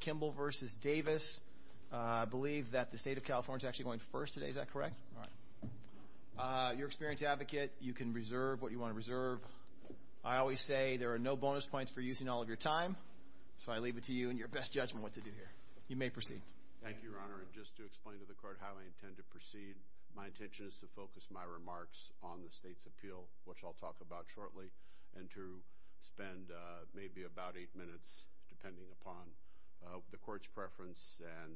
Kimble v. Davis. I believe that the state of California is actually going first today, is that correct? Your experience as an advocate, you can reserve what you want to reserve. I always say there are no bonus points for using all of your time, so I leave it to you and your best judgment what to do here. You may proceed. Thank you, Your Honor. And just to explain to the Court how I intend to proceed, my intention is to focus my remarks on the state's appeal, which I'll talk about shortly, and to spend maybe about eight minutes, depending upon the Court's preference and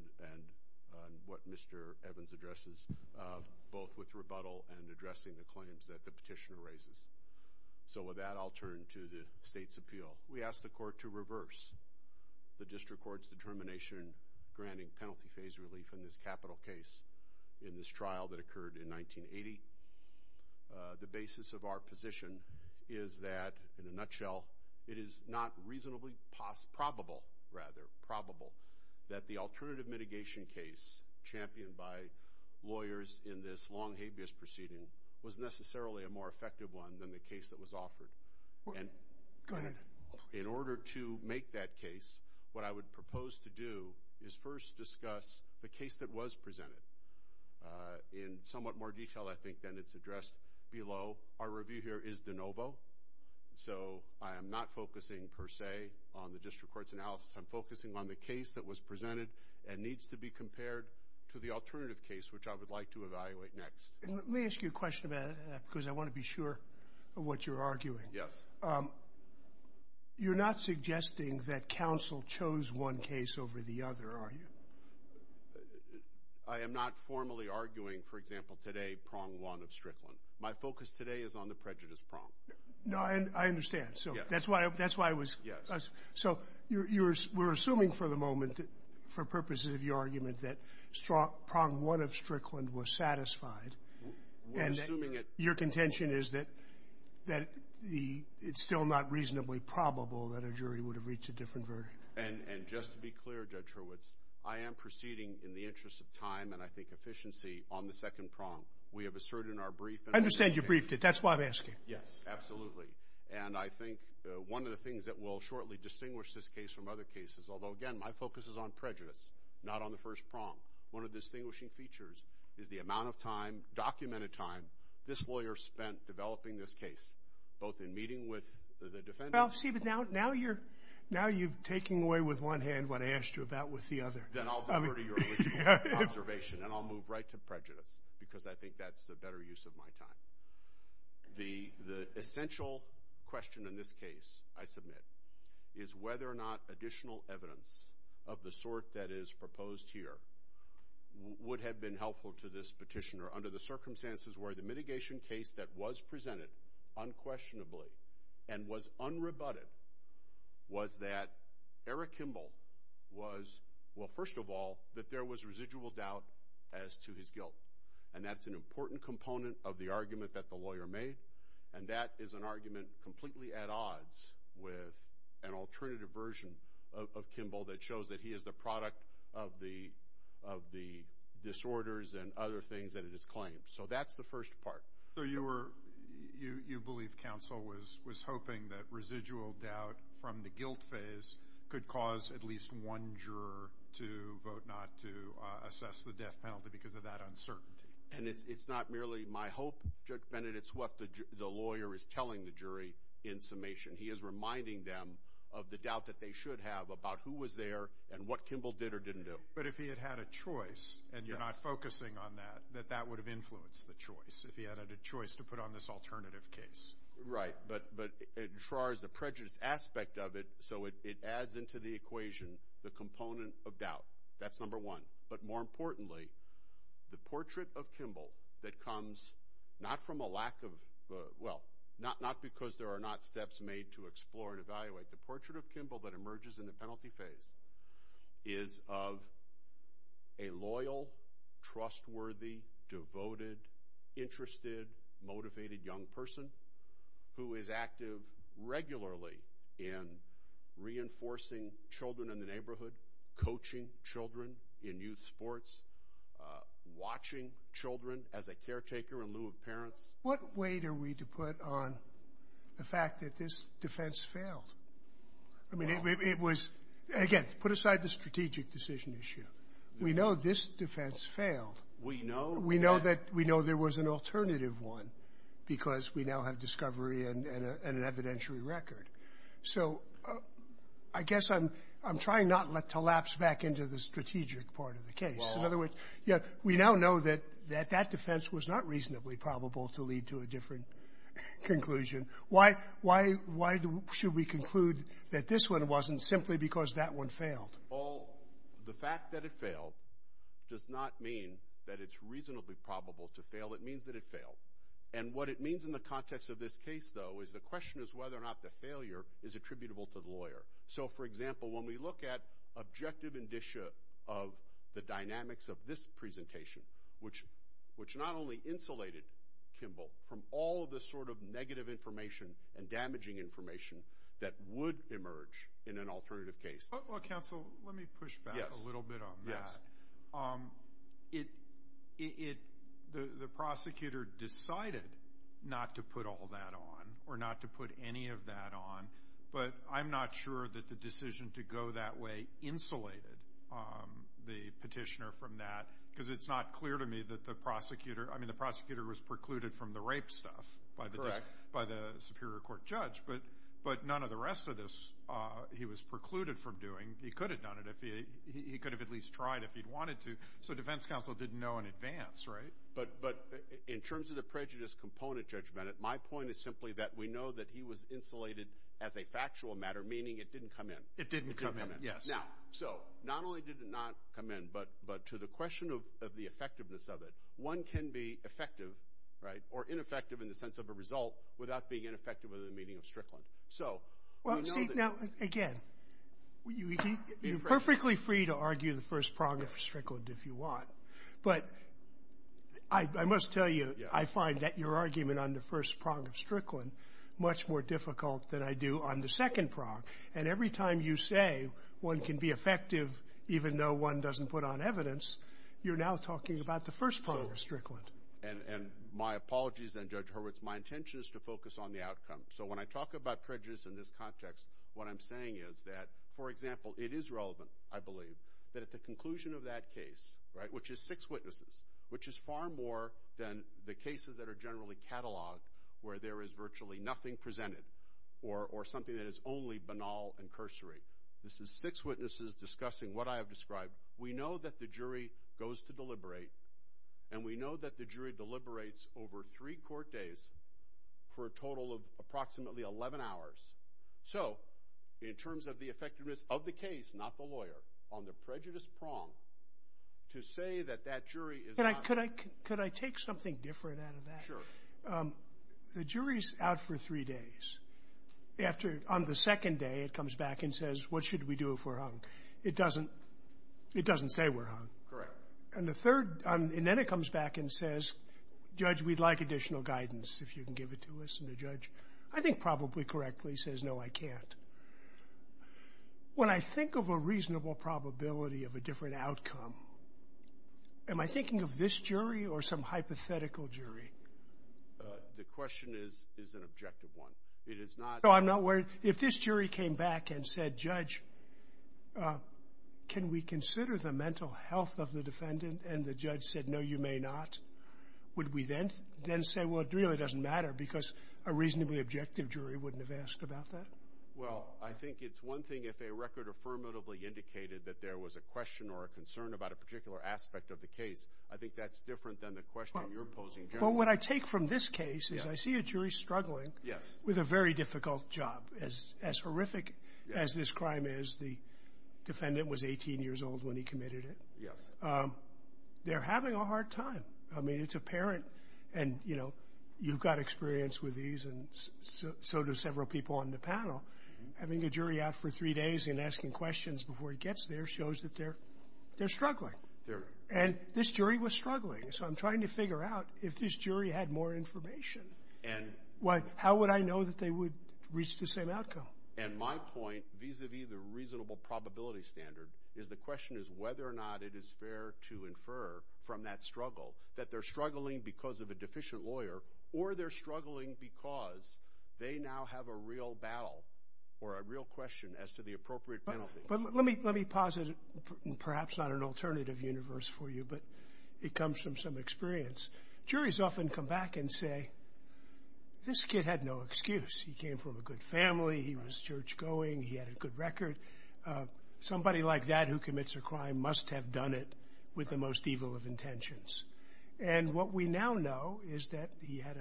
what Mr. Evans addresses, both with rebuttal and addressing the claims that the petitioner raises. So with that, I'll turn to the state's appeal. We ask the Court to reverse the District Court's determination granting penalty phase relief in this capital case, in this trial that occurred in 1980. The basis of our position is that, in a nutshell, it is not reasonably probable, rather probable, that the alternative mitigation case championed by lawyers in this long, habeas proceeding was necessarily a more effective one than the case that was offered. Go ahead. In order to make that case, what I would propose to do is first discuss the case that was presented. In somewhat more detail, I think, than it's addressed below, our review here is de novo. So I am not focusing, per se, on the District Court's analysis. I'm focusing on the case that was presented and needs to be compared to the alternative case, which I would like to evaluate next. Let me ask you a question about that because I want to be sure of what you're arguing. Yes. You're not suggesting that counsel chose one case over the other, are you? I am not formally arguing, for example, today, prong one of Strickland. My focus today is on the prejudice prong. No, I understand. Yes. That's why I was – Yes. So you're – we're assuming for the moment, for purposes of your argument, that prong one of Strickland was satisfied. We're assuming it – And your contention is that it's still not reasonably probable that a jury would have reached a different verdict. And just to be clear, Judge Hurwitz, I am proceeding in the interest of time and I think efficiency on the second prong. We have asserted in our brief – I understand you briefed it. That's why I'm asking. Yes, absolutely. And I think one of the things that will shortly distinguish this case from other cases, although, again, my focus is on prejudice, not on the first prong, one of the distinguishing features is the amount of time, documented time, this lawyer spent developing this case, both in meeting with the defendants – I'm going away with one hand when I asked you about with the other. Then I'll go to your observation and I'll move right to prejudice because I think that's a better use of my time. The essential question in this case, I submit, is whether or not additional evidence of the sort that is proposed here would have been helpful to this petitioner under the circumstances where the mitigation case that was presented unquestionably and was unrebutted was that Eric Kimball was – well, first of all, that there was residual doubt as to his guilt, and that's an important component of the argument that the lawyer made, and that is an argument completely at odds with an alternative version of Kimball that shows that he is the product of the disorders and other things that it is claimed. So that's the first part. So you believe counsel was hoping that residual doubt from the guilt phase could cause at least one juror to vote not to assess the death penalty because of that uncertainty. And it's not merely my hope, Judge Bennett, it's what the lawyer is telling the jury in summation. He is reminding them of the doubt that they should have about who was there and what Kimball did or didn't do. But if he had had a choice and you're not focusing on that, that that would have influenced the choice, if he had had a choice to put on this alternative case. Right. But as far as the prejudice aspect of it, so it adds into the equation the component of doubt. That's number one. But more importantly, the portrait of Kimball that comes not from a lack of – well, not because there are not steps made to explore and evaluate. But the portrait of Kimball that emerges in the penalty phase is of a loyal, trustworthy, devoted, interested, motivated young person who is active regularly in reinforcing children in the neighborhood, coaching children in youth sports, watching children as a caretaker in lieu of parents. What weight are we to put on the fact that this defense failed? I mean, it was – again, put aside the strategic decision issue. We know this defense failed. We know. We know that – we know there was an alternative one because we now have discovery and an evidentiary record. So I guess I'm trying not to lapse back into the strategic part of the case. We now know that that defense was not reasonably probable to lead to a different conclusion. Why should we conclude that this one wasn't simply because that one failed? Well, the fact that it failed does not mean that it's reasonably probable to fail. It means that it failed. And what it means in the context of this case, though, is the question is whether or not the failure is attributable to the lawyer. So, for example, when we look at objective indicia of the dynamics of this presentation, which not only insulated Kimball from all of the sort of negative information and damaging information that would emerge in an alternative case. Well, counsel, let me push back a little bit on that. The prosecutor decided not to put all that on or not to put any of that on, but I'm not sure that the decision to go that way insulated the petitioner from that because it's not clear to me that the prosecutor was precluded from the rape stuff by the superior court judge. But none of the rest of this he was precluded from doing. He could have done it. He could have at least tried if he'd wanted to. So defense counsel didn't know in advance, right? But in terms of the prejudice component judgment, my point is simply that we know that he was insulated as a factual matter, meaning it didn't come in. It didn't come in, yes. Now, so not only did it not come in, but to the question of the effectiveness of it, one can be effective, right, or ineffective in the sense of a result without being ineffective in the meaning of Strickland. So we know that. Well, see, now, again, you're perfectly free to argue the first prong of Strickland if you want, but I must tell you, I find that your argument on the first prong of Strickland much more difficult than I do on the second prong. And every time you say one can be effective even though one doesn't put on evidence, you're now talking about the first prong of Strickland. And my apologies, then, Judge Hurwitz. My intention is to focus on the outcome. So when I talk about prejudice in this context, what I'm saying is that, for example, it is relevant, I believe, that at the conclusion of that case, right, which is six witnesses, which is far more than the cases that are generally catalogued, where there is virtually nothing presented or something that is only banal and cursory. This is six witnesses discussing what I have described. We know that the jury goes to deliberate, and we know that the jury deliberates over three court days for a total of approximately 11 hours. So in terms of the effectiveness of the case, not the lawyer, on the prejudice prong, to say that that jury is not ---- Could I take something different out of that? Sure. The jury is out for three days. On the second day, it comes back and says, what should we do if we're hung? It doesn't say we're hung. Correct. And then it comes back and says, Judge, we'd like additional guidance, if you can give it to us. And the judge, I think probably correctly, says, no, I can't. When I think of a reasonable probability of a different outcome, am I thinking of this jury or some hypothetical jury? The question is an objective one. It is not ---- No, I'm not worried. If this jury came back and said, Judge, can we consider the mental health of the defendant, and the judge said, no, you may not, would we then say, well, it really doesn't matter because a reasonably objective jury wouldn't have asked about that? Well, I think it's one thing if a record affirmatively indicated that there was a question or a concern about a particular aspect of the case. I think that's different than the question you're posing generally. Well, what I take from this case is I see a jury struggling with a very difficult job, as horrific as this crime is. The defendant was 18 years old when he committed it. Yes. They're having a hard time. I mean, it's apparent. And, you know, you've got experience with these, and so do several people on the panel. Having a jury out for three days and asking questions before he gets there shows that they're struggling. And this jury was struggling. So I'm trying to figure out if this jury had more information. And ---- How would I know that they would reach the same outcome? And my point vis-a-vis the reasonable probability standard is the question is whether or not it is fair to infer from that struggle that they're struggling because of a deficient lawyer or they're struggling because they now have a real battle or a real question as to the appropriate penalty. But let me posit perhaps not an alternative universe for you, but it comes from some experience. Juries often come back and say, this kid had no excuse. He came from a good family. He was church-going. He had a good record. Somebody like that who commits a crime must have done it with the most evil of intentions. And what we now know is that he had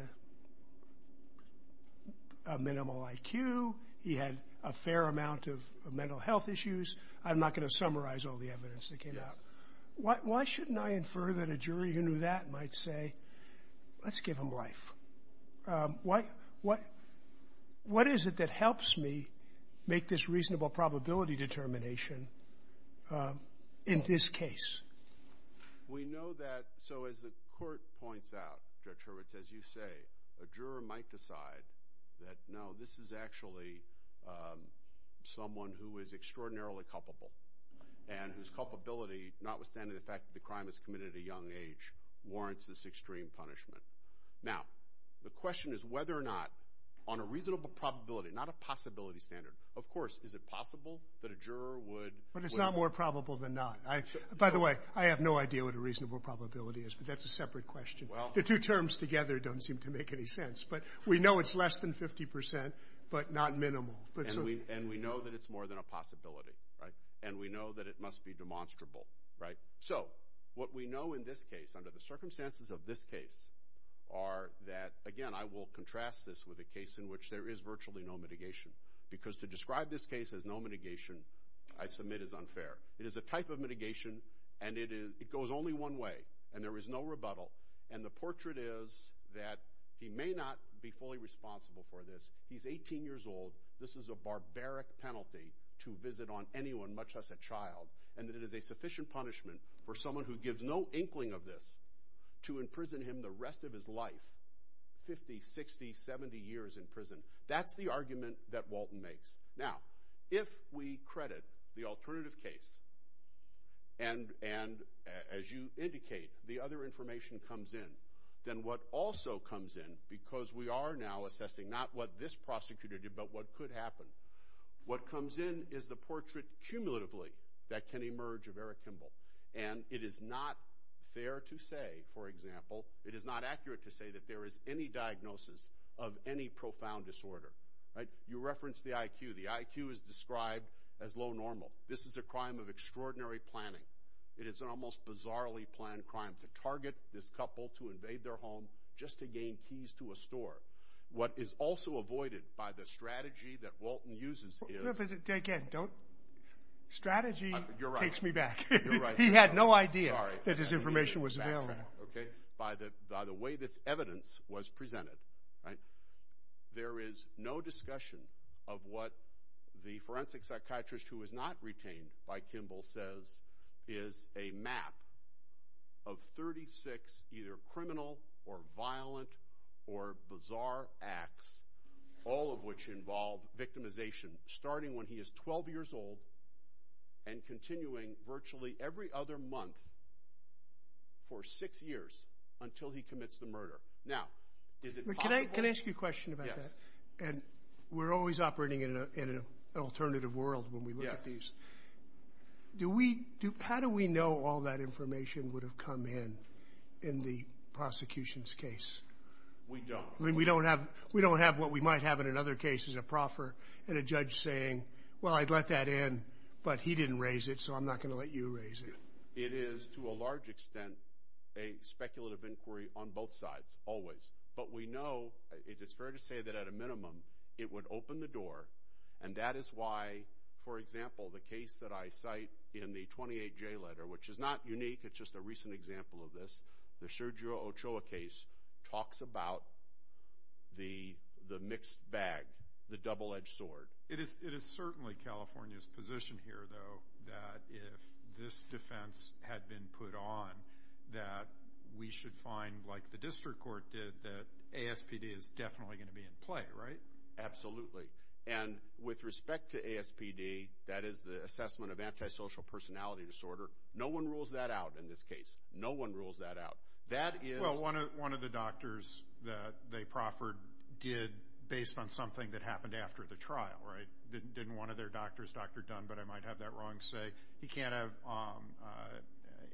a minimal IQ. He had a fair amount of mental health issues. I'm not going to summarize all the evidence that came out. Why shouldn't I infer that a jury who knew that might say, let's give him life? What is it that helps me make this reasonable probability determination in this case? We know that so as the court points out, Judge Hurwitz, as you say, a juror might decide that, no, this is actually someone who is extraordinarily culpable and whose culpability, notwithstanding the fact that the crime is committed at a young age, warrants this extreme punishment. Now, the question is whether or not, on a reasonable probability, not a possibility standard, of course, is it possible that a juror would? But it's not more probable than not. By the way, I have no idea what a reasonable probability is, but that's a separate question. The two terms together don't seem to make any sense. But we know it's less than 50 percent, but not minimal. And we know that it's more than a possibility. And we know that it must be demonstrable. So what we know in this case, under the circumstances of this case, are that, again, I will contrast this with a case in which there is virtually no mitigation because to describe this case as no mitigation, I submit, is unfair. It is a type of mitigation, and it goes only one way, and there is no rebuttal. And the portrait is that he may not be fully responsible for this. He's 18 years old. This is a barbaric penalty to visit on anyone, much less a child, and that it is a sufficient punishment for someone who gives no inkling of this to imprison him the rest of his life, 50, 60, 70 years in prison. That's the argument that Walton makes. Now, if we credit the alternative case and, as you indicate, the other information comes in, then what also comes in, because we are now assessing not what this prosecutor did, but what could happen, what comes in is the portrait, cumulatively, that can emerge of Eric Kimball. And it is not fair to say, for example, it is not accurate to say that there is any diagnosis of any profound disorder. You reference the IQ. The IQ is described as low normal. This is a crime of extraordinary planning. It is an almost bizarrely planned crime to target this couple to invade their home just to gain keys to a store. What is also avoided by the strategy that Walton uses is – Again, don't – strategy takes me back. You're right. He had no idea that this information was available. Okay. By the way this evidence was presented, right, there is no discussion of what the forensic psychiatrist who was not retained by Kimball says is a map of 36 either criminal or violent or bizarre acts, all of which involve victimization, starting when he is 12 years old and continuing virtually every other month for six years until he commits the murder. Now, is it possible – Can I ask you a question about that? Yes. And we're always operating in an alternative world when we look at these. Yes. Do we – how do we know all that information would have come in in the prosecution's case? We don't. I mean, we don't have what we might have in another case as a proffer and a judge saying, well, I'd let that in, but he didn't raise it, so I'm not going to let you raise it. It is to a large extent a speculative inquiry on both sides always. But we know – it's fair to say that at a minimum it would open the door, and that is why, for example, the case that I cite in the 28J letter, which is not unique. It's just a recent example of this. The Sergio Ochoa case talks about the mixed bag, the double-edged sword. It is certainly California's position here, though, that if this defense had been put on, that we should find, like the district court did, that ASPD is definitely going to be in play, right? Absolutely. And with respect to ASPD, that is the assessment of antisocial personality disorder, no one rules that out in this case. No one rules that out. That is – Well, one of the doctors that they proffered did based on something that happened after the trial, right? Didn't one of their doctors, Dr. Dunn, but I might have that wrong, say, he can't have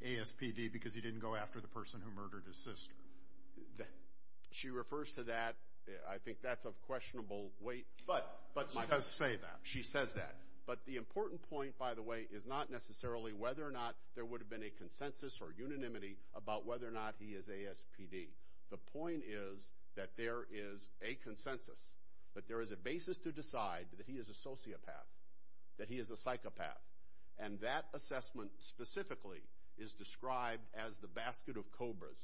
ASPD because he didn't go after the person who murdered his sister? She refers to that. I think that's of questionable weight. She does say that. She says that. But the important point, by the way, is not necessarily whether or not there would have been a consensus or unanimity about whether or not he is ASPD. The point is that there is a consensus, that there is a basis to decide that he is a sociopath, that he is a psychopath. And that assessment specifically is described as the basket of cobras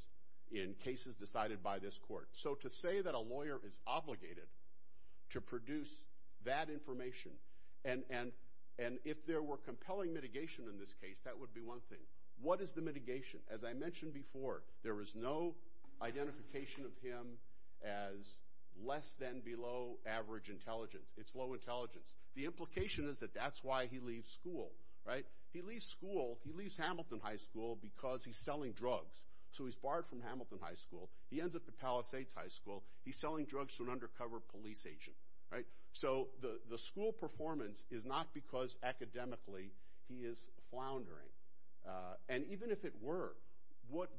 in cases decided by this court. So to say that a lawyer is obligated to produce that information, and if there were compelling mitigation in this case, that would be one thing. What is the mitigation? As I mentioned before, there is no identification of him as less than below average intelligence. It's low intelligence. The implication is that that's why he leaves school. He leaves school. He leaves Hamilton High School because he's selling drugs. So he's barred from Hamilton High School. He ends up at Palisades High School. He's selling drugs to an undercover police agent. So the school performance is not because academically he is floundering. And even if it were,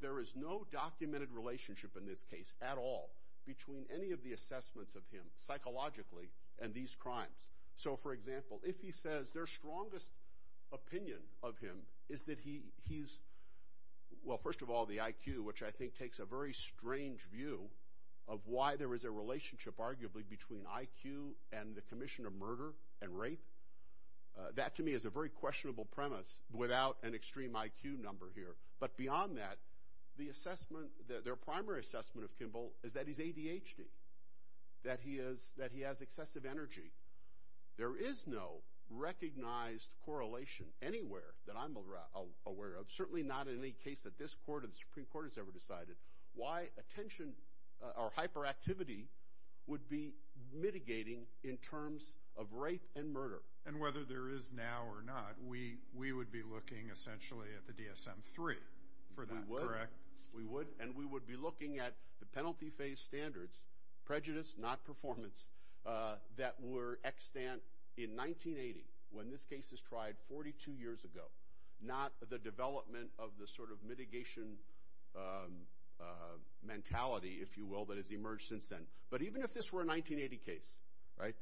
there is no documented relationship in this case at all between any of the assessments of him psychologically and these crimes. So, for example, if he says their strongest opinion of him is that he's, well, first of all, the IQ, which I think takes a very strange view of why there is a relationship arguably between IQ and the commission of murder and rape. That, to me, is a very questionable premise without an extreme IQ number here. But beyond that, their primary assessment of Kimball is that he's ADHD, that he has excessive energy. There is no recognized correlation anywhere that I'm aware of, certainly not in any case that this court or the Supreme Court has ever decided, why attention or hyperactivity would be mitigating in terms of rape and murder. And whether there is now or not, we would be looking essentially at the DSM-III for that, correct? We would. We would. And we would be looking at the penalty phase standards, prejudice, not performance, that were extant in 1980 when this case was tried 42 years ago, not the development of the sort of mitigation mentality, if you will, that has emerged since then. But even if this were a 1980 case, right,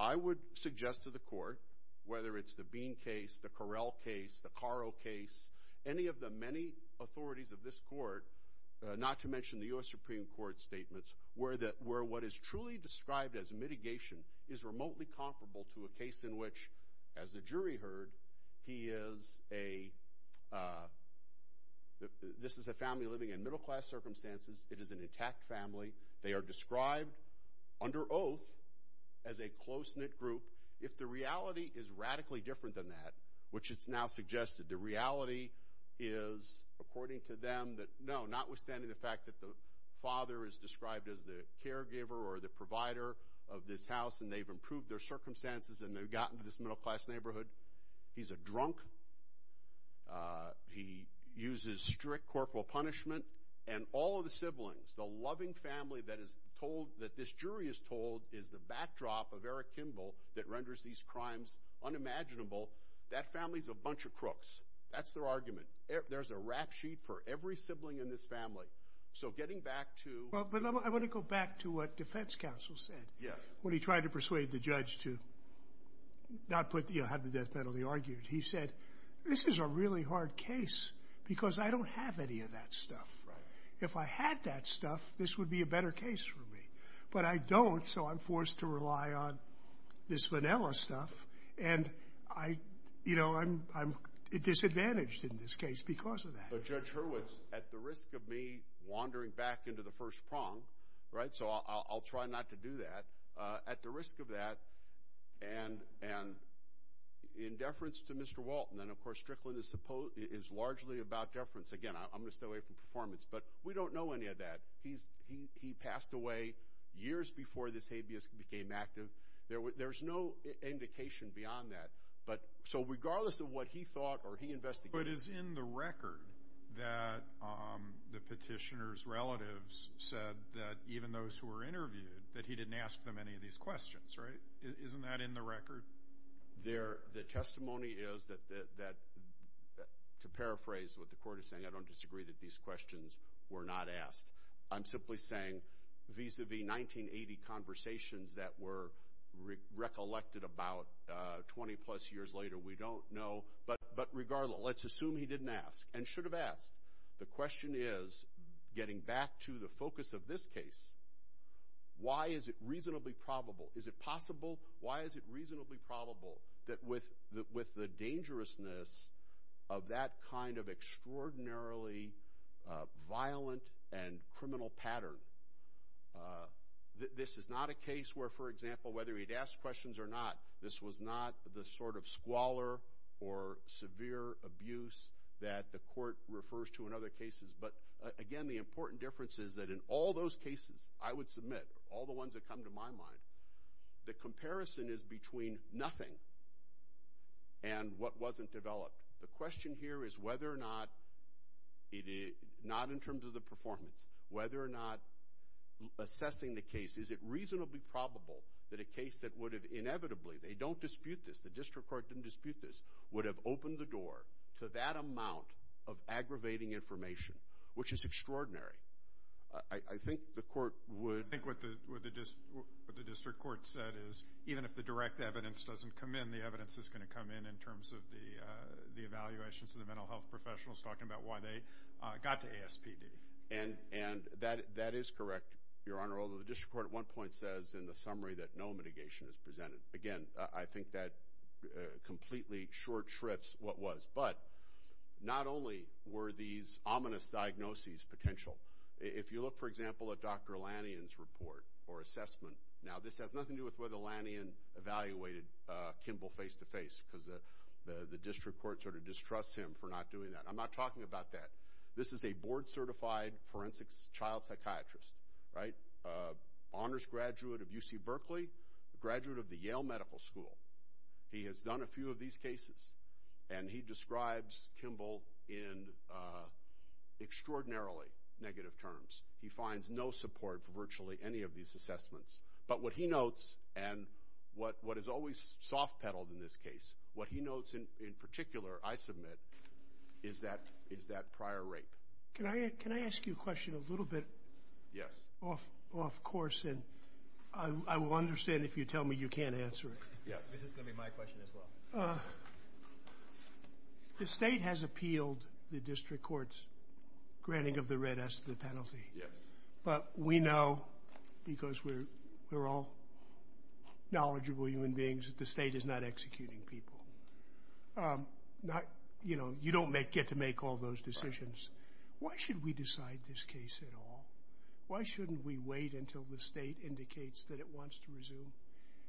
I would suggest to the court, whether it's the Bean case, the Correll case, the Caro case, any of the many authorities of this court, not to mention the U.S. Supreme Court statements, where what is truly described as mitigation is remotely comparable to a case in which, as the jury heard, this is a family living in middle-class circumstances. It is an intact family. They are described under oath as a close-knit group. If the reality is radically different than that, which it's now suggested the reality is, according to them, that no, notwithstanding the fact that the father is described as the caregiver or the provider of this house and they've improved their circumstances and they've gotten to this middle-class neighborhood, he's a drunk. He uses strict corporal punishment. And all of the siblings, the loving family that this jury is told is the backdrop of Eric Kimball that renders these crimes unimaginable, that family's a bunch of crooks. That's their argument. There's a rap sheet for every sibling in this family. So getting back to— Well, but I want to go back to what defense counsel said when he tried to persuade the judge to not have the death penalty argued. He said, this is a really hard case because I don't have any of that stuff. If I had that stuff, this would be a better case for me. But I don't, so I'm forced to rely on this Manila stuff, and, you know, I'm disadvantaged in this case because of that. But Judge Hurwitz, at the risk of me wandering back into the first prong—right? So I'll try not to do that. At the risk of that, and in deference to Mr. Walton, and, of course, Strickland is largely about deference. Again, I'm going to stay away from performance, but we don't know any of that. He passed away years before this habeas became active. There's no indication beyond that. So regardless of what he thought or he investigated— But it is in the record that the petitioner's relatives said that even those who were interviewed, that he didn't ask them any of these questions, right? Isn't that in the record? The testimony is that, to paraphrase what the court is saying, I don't disagree that these questions were not asked. I'm simply saying, vis-à-vis 1980 conversations that were recollected about 20-plus years later, we don't know. But regardless, let's assume he didn't ask and should have asked. The question is, getting back to the focus of this case, why is it reasonably probable? Is it possible? Why is it reasonably probable that with the dangerousness of that kind of extraordinarily violent and criminal pattern, this is not a case where, for example, whether he'd ask questions or not, this was not the sort of squalor or severe abuse that the court refers to in other cases. But, again, the important difference is that in all those cases, I would submit, all the ones that come to my mind, the comparison is between nothing and what wasn't developed. The question here is whether or not, not in terms of the performance, whether or not assessing the case, is it reasonably probable that a case that would have inevitably, they don't dispute this, the district court didn't dispute this, would have opened the door to that amount of aggravating information, which is extraordinary. I think the court would. I think what the district court said is, even if the direct evidence doesn't come in, the evidence is going to come in in terms of the evaluations of the mental health professionals, talking about why they got to ASPD. And that is correct, Your Honor, although the district court at one point says in the summary that no mitigation is presented. Again, I think that completely short shrifts what was. But not only were these ominous diagnoses potential. If you look, for example, at Dr. Lanyon's report or assessment, now this has nothing to do with whether Lanyon evaluated Kimball face-to-face because the district court sort of distrusts him for not doing that. I'm not talking about that. This is a board-certified forensic child psychiatrist, right, honors graduate of UC Berkeley, a graduate of the Yale Medical School. He has done a few of these cases, and he describes Kimball in extraordinarily negative terms. He finds no support for virtually any of these assessments. But what he notes, and what is always soft-pedaled in this case, what he notes in particular, I submit, is that prior rape. Can I ask you a question a little bit off course, and I will understand if you tell me you can't answer it. Yes, this is going to be my question as well. The state has appealed the district court's granting of the red S to the penalty. Yes. But we know, because we're all knowledgeable human beings, that the state is not executing people. You don't get to make all those decisions. Why should we decide this case at all? Why shouldn't we wait until the state indicates that it wants to resume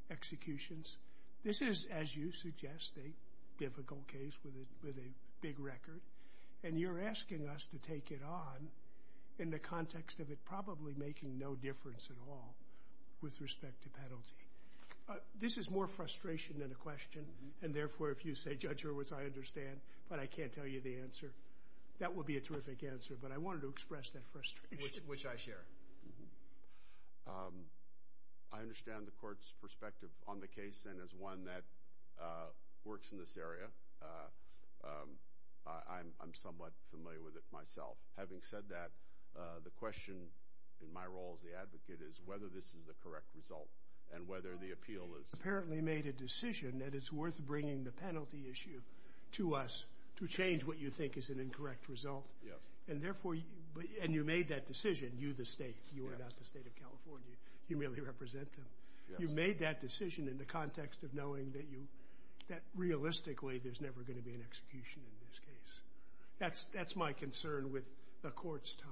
executions? This is, as you suggest, a difficult case with a big record, and you're asking us to take it on in the context of it probably making no difference at all with respect to penalty. This is more frustration than a question, and therefore if you say, Judge Hurwitz, I understand, but I can't tell you the answer, that would be a terrific answer. But I wanted to express that frustration. Which I share. I understand the court's perspective on the case, and as one that works in this area, I'm somewhat familiar with it myself. Having said that, the question in my role as the advocate is whether this is the correct result and whether the appeal is. You apparently made a decision that it's worth bringing the penalty issue to us to change what you think is an incorrect result. Yes. And therefore you made that decision, you the state. You are not the state of California. You merely represent them. You made that decision in the context of knowing that realistically there's never going to be an execution in this case. That's my concern with the court's time.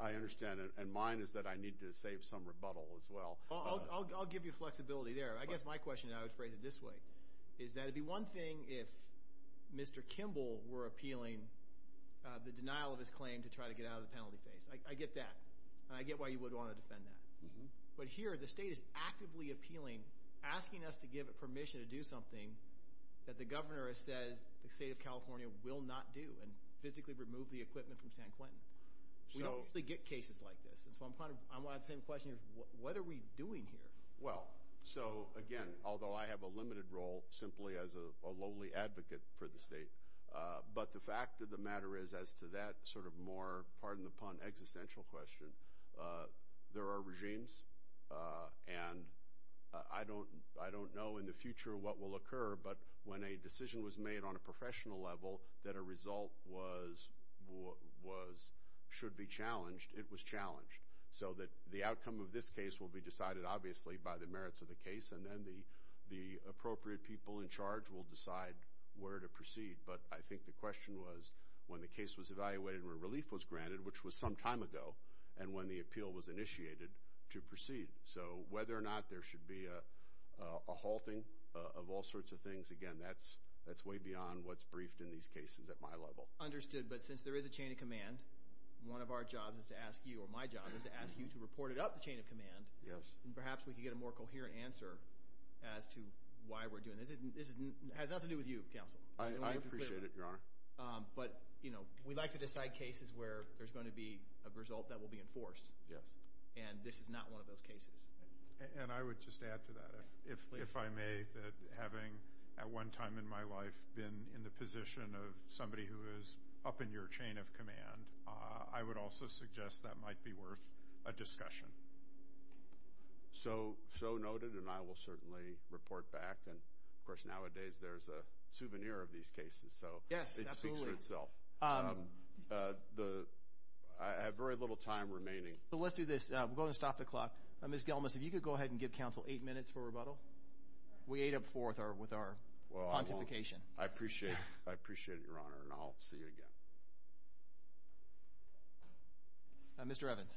I understand, and mine is that I need to save some rebuttal as well. I'll give you flexibility there. I guess my question, and I would phrase it this way, is that it would be one thing if Mr. Kimball were appealing the denial of his claim to try to get out of the penalty phase. I get that. And I get why you would want to defend that. But here, the state is actively appealing, asking us to give it permission to do something that the governor says the state of California will not do, and physically remove the equipment from San Quentin. We don't usually get cases like this. And so I want to ask the same question here. What are we doing here? Well, so, again, although I have a limited role simply as a lowly advocate for the state, but the fact of the matter is as to that sort of more, pardon the pun, existential question, there are regimes. And I don't know in the future what will occur, but when a decision was made on a professional level that a result should be challenged, it was challenged. So that the outcome of this case will be decided, obviously, by the merits of the case, and then the appropriate people in charge will decide where to proceed. But I think the question was when the case was evaluated and relief was granted, which was some time ago, and when the appeal was initiated to proceed. So whether or not there should be a halting of all sorts of things, again, that's way beyond what's briefed in these cases at my level. Understood. But since there is a chain of command, one of our jobs is to ask you, or my job is to ask you to report it up the chain of command, and perhaps we can get a more coherent answer as to why we're doing this. This has nothing to do with you, Counsel. I appreciate it, Your Honor. But, you know, we like to decide cases where there's going to be a result that will be enforced. Yes. And this is not one of those cases. And I would just add to that, if I may, that having at one time in my life been in the position of somebody who is up in your chain of command, I would also suggest that might be worth a discussion. So noted, and I will certainly report back. And, of course, nowadays there's a souvenir of these cases, so it speaks for itself. Yes, absolutely. I have very little time remaining. So let's do this. We'll go ahead and stop the clock. We ate up four with our pontification. I appreciate it, Your Honor, and I'll see you again. Mr. Evans.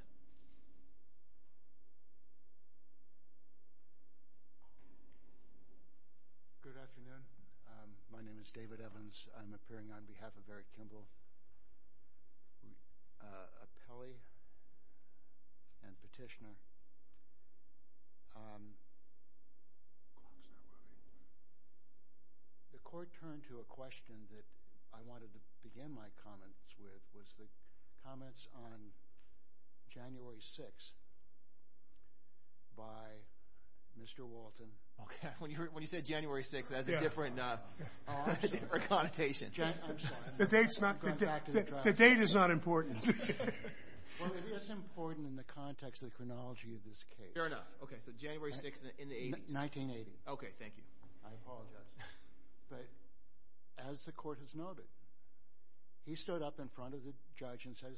Good afternoon. My name is David Evans. I'm appearing on behalf of Eric Kimball, appellee and petitioner. The court turned to a question that I wanted to begin my comments with, was the comments on January 6th by Mr. Walton. When you said January 6th, that's a different connotation. The date is not important. Well, it is important in the context of the chronology of this case. Fair enough. Okay, so January 6th in the 80s. 1980. Okay, thank you. I apologize. But as the court has noted, he stood up in front of the judge and says,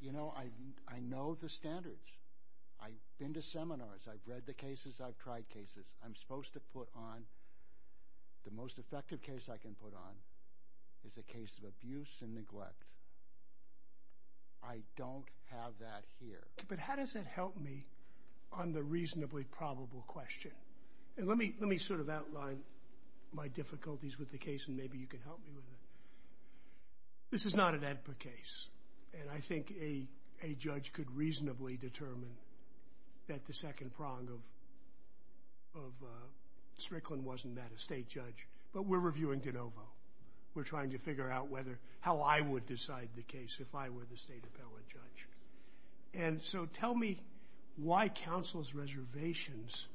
You know, I know the standards. I've been to seminars. I've read the cases. I've tried cases. I'm supposed to put on the most effective case I can put on, is a case of abuse and neglect. I don't have that here. But how does that help me on the reasonably probable question? And let me sort of outline my difficulties with the case, and maybe you can help me with it. This is not an AEDPA case, and I think a judge could reasonably determine that the second prong of Strickland wasn't that, a state judge. But we're reviewing de novo. We're trying to figure out how I would decide the case if I were the state appellate judge. And so tell me why counsel's reservations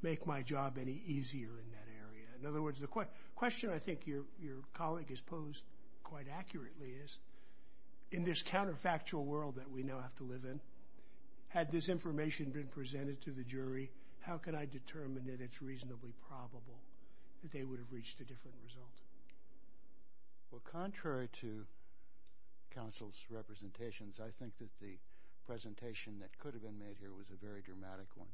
make my job any easier in that area. In other words, the question I think your colleague has posed quite accurately is, in this counterfactual world that we now have to live in, had this information been presented to the jury, how could I determine that it's reasonably probable that they would have reached a different result? Well, contrary to counsel's representations, I think that the presentation that could have been made here was a very dramatic one.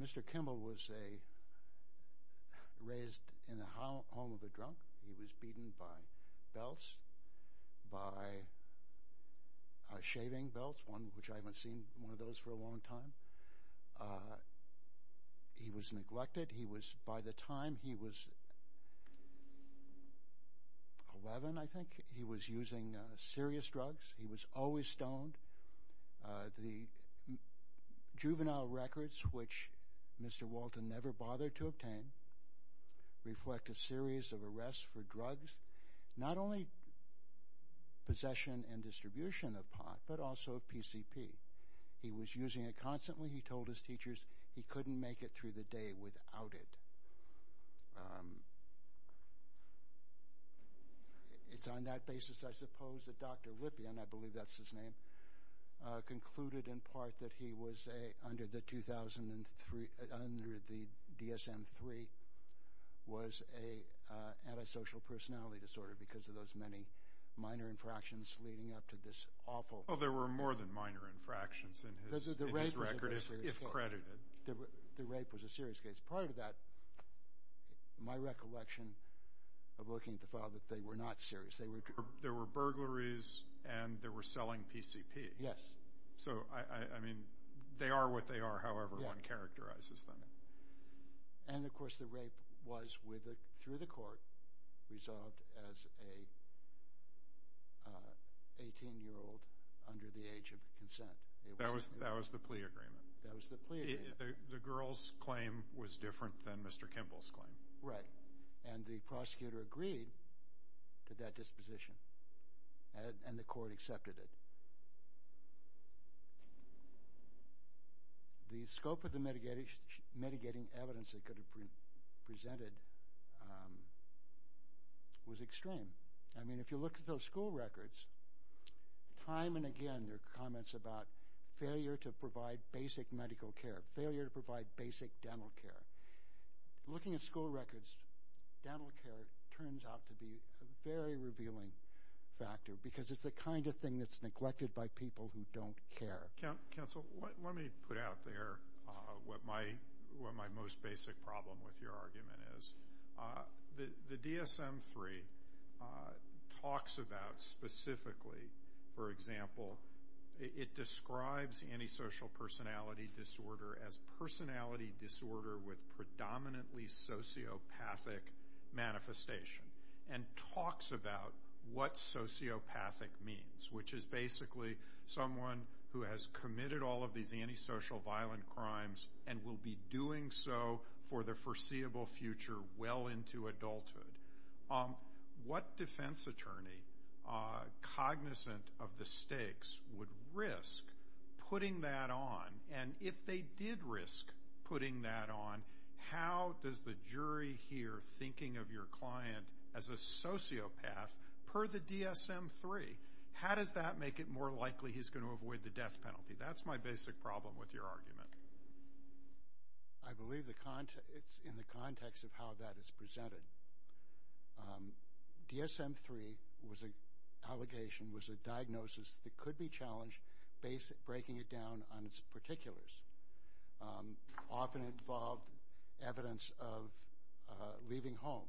Mr. Kimball was raised in the home of a drunk. He was beaten by belts, by shaving belts, which I haven't seen one of those for a long time. He was neglected. He was, by the time he was 11, I think, he was using serious drugs. He was always stoned. The juvenile records, which Mr. Walton never bothered to obtain, reflect a series of arrests for drugs, not only possession and distribution of pot, but also of PCP. He was using it constantly. He told his teachers he couldn't make it through the day without it. It's on that basis, I suppose, that Dr. Lippian, I believe that's his name, concluded in part that he was, under the DSM-III, was an antisocial personality disorder because of those many minor infractions leading up to this awful... Well, there were more than minor infractions in his record, if credited. The rape was a serious case. Part of that, my recollection of looking at the file, that they were not serious. There were burglaries and they were selling PCP. Yes. So, I mean, they are what they are, however one characterizes them. And, of course, the rape was, through the court, resolved as an 18-year-old under the age of consent. That was the plea agreement. That was the plea agreement. The girl's claim was different than Mr. Kimball's claim. Right. And the prosecutor agreed to that disposition, and the court accepted it. The scope of the mitigating evidence they could have presented was extreme. I mean, if you look at those school records, time and again, there are comments about failure to provide basic medical care, failure to provide basic dental care. Looking at school records, dental care turns out to be a very revealing factor because it's the kind of thing that's neglected by people who don't care. Counsel, let me put out there what my most basic problem with your argument is. The DSM-III talks about specifically, for example, it describes antisocial personality disorder as personality disorder with predominantly sociopathic manifestation and talks about what sociopathic means, which is basically someone who has committed all of these antisocial violent crimes and will be doing so for the foreseeable future well into adulthood. What defense attorney, cognizant of the stakes, would risk putting that on? And if they did risk putting that on, how does the jury here, thinking of your client as a sociopath, per the DSM-III, how does that make it more likely he's going to avoid the death penalty? That's my basic problem with your argument. I believe it's in the context of how that is presented. DSM-III was an allegation, was a diagnosis that could be challenged based on breaking it down on its particulars. Often it involved evidence of leaving home,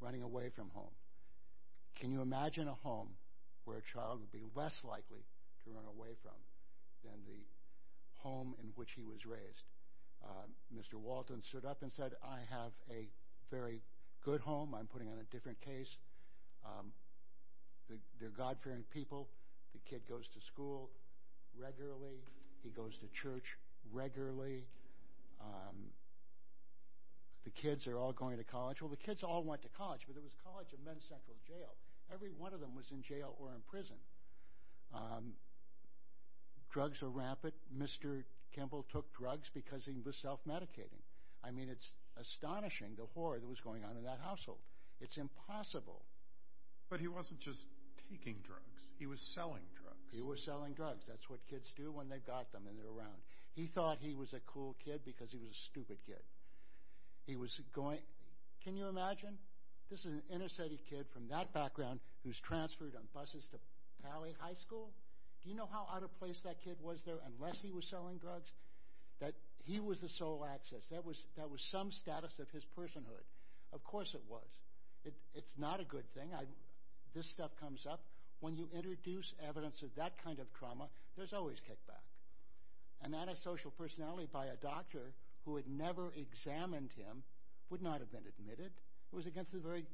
running away from home. Can you imagine a home where a child would be less likely to run away from than the home in which he was raised? Mr. Walton stood up and said, I have a very good home. I'm putting on a different case. They're God-fearing people. The kid goes to school regularly. He goes to church regularly. The kids are all going to college. Well, the kids all went to college, but there was a college of men's central jail. Every one of them was in jail or in prison. Drugs are rampant. Mr. Kimball took drugs because he was self-medicating. I mean, it's astonishing the horror that was going on in that household. It's impossible. But he wasn't just taking drugs. He was selling drugs. He was selling drugs. That's what kids do when they've got them and they're around. He thought he was a cool kid because he was a stupid kid. Can you imagine? This is an inner city kid from that background who's transferred on buses to Pally High School. Do you know how out of place that kid was there unless he was selling drugs? He was the sole access. That was some status of his personhood. Of course it was. It's not a good thing. This stuff comes up. When you introduce evidence of that kind of trauma, there's always kickback. An antisocial personality by a doctor who had never examined him would not have been admitted. It was against the very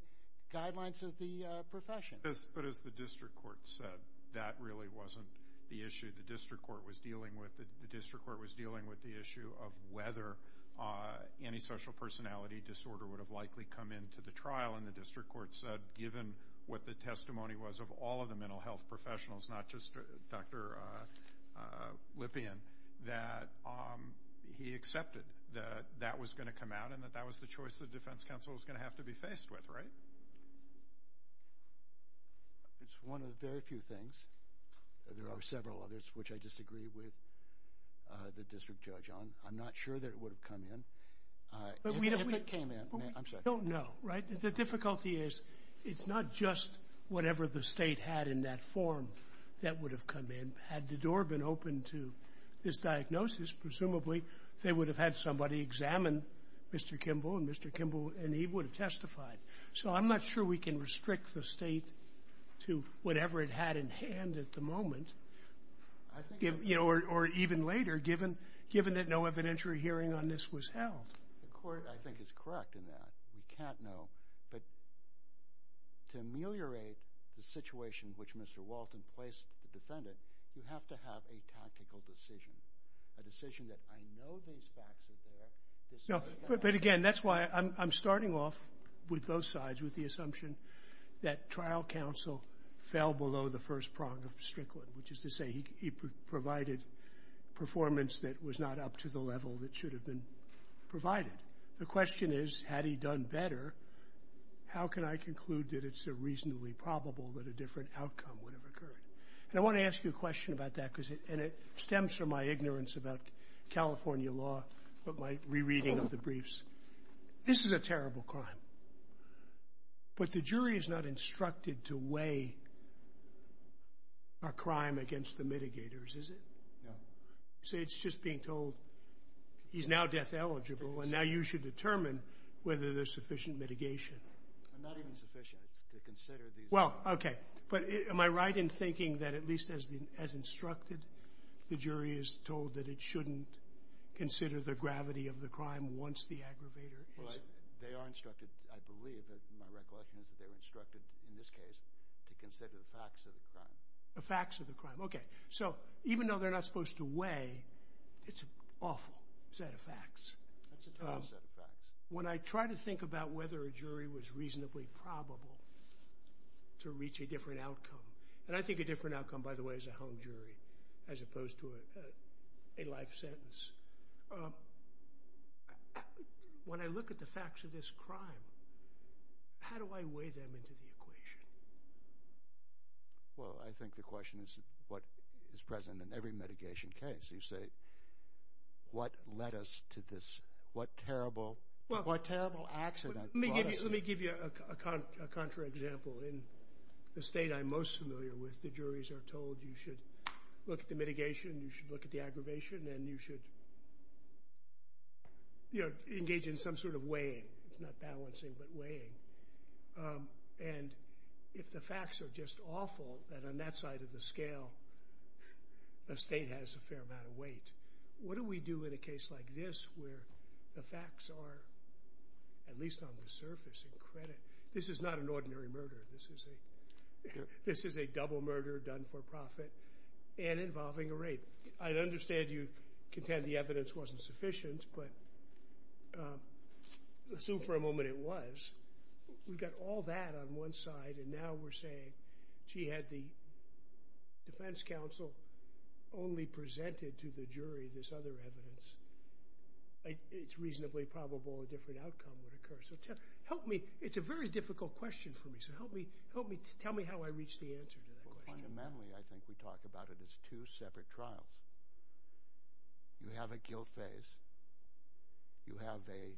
guidelines of the profession. But as the district court said, that really wasn't the issue. The district court was dealing with the issue of whether antisocial personality disorder would have likely come into the trial, and the district court said, given what the testimony was of all of the mental health professionals, not just Dr. Lippian, that he accepted that that was going to come out and that that was the choice the defense counsel was going to have to be faced with. Right? It's one of the very few things. There are several others which I disagree with the district judge on. I'm not sure that it would have come in. And if it came in, I'm sorry. But we don't know, right? The difficulty is, it's not just whatever the State had in that form that would have come in. Had the door been open to this diagnosis, presumably they would have had somebody examine Mr. Kimball and Mr. Kimball and he would have testified. So I'm not sure we can restrict the State to whatever it had in hand at the moment. I think that's right. The court, I think, is correct in that. We can't know. But to ameliorate the situation which Mr. Walton placed the defendant, you have to have a tactical decision, a decision that I know these facts are there. But, again, that's why I'm starting off with both sides with the assumption that trial counsel fell below the first prong of Strickland, which is to say he provided performance that was not up to the level that should have been provided. The question is, had he done better, how can I conclude that it's a reasonably probable that a different outcome would have occurred? And I want to ask you a question about that, and it stems from my ignorance about California law, but my rereading of the briefs. This is a terrible crime. But the jury is not instructed to weigh a crime against the mitigators, is it? No. So it's just being told he's now death eligible, and now you should determine whether there's sufficient mitigation. Not even sufficient. It's to consider these. Well, okay. But am I right in thinking that at least as instructed, the jury is told that it shouldn't consider the gravity of the crime once the aggravator is? Well, they are instructed, I believe. My recollection is that they were instructed in this case to consider the facts of the crime. The facts of the crime. Okay. So even though they're not supposed to weigh, it's an awful set of facts. That's a terrible set of facts. When I try to think about whether a jury was reasonably probable to reach a different outcome, and I think a different outcome, by the way, is a hung jury, as opposed to a life sentence. When I look at the facts of this crime, how do I weigh them into the equation? Well, I think the question is what is present in every mitigation case. You say, what led us to this? What terrible accident brought us here? Let me give you a contrary example. In the state I'm most familiar with, the juries are told you should look at the mitigation, you should look at the aggravation, and you should engage in some sort of weighing. It's not balancing, but weighing. And if the facts are just awful, then on that side of the scale, the state has a fair amount of weight. What do we do in a case like this where the facts are, at least on the surface, in credit? This is not an ordinary murder. This is a double murder done for profit and involving a rape. I understand you contend the evidence wasn't sufficient, but assume for a moment it was. We've got all that on one side, and now we're saying, gee, had the defense counsel only presented to the jury this other evidence, it's reasonably probable a different outcome would occur. It's a very difficult question for me, so tell me how I reach the answer to that question. Fundamentally, I think we talk about it as two separate trials. You have a guilt phase. You have a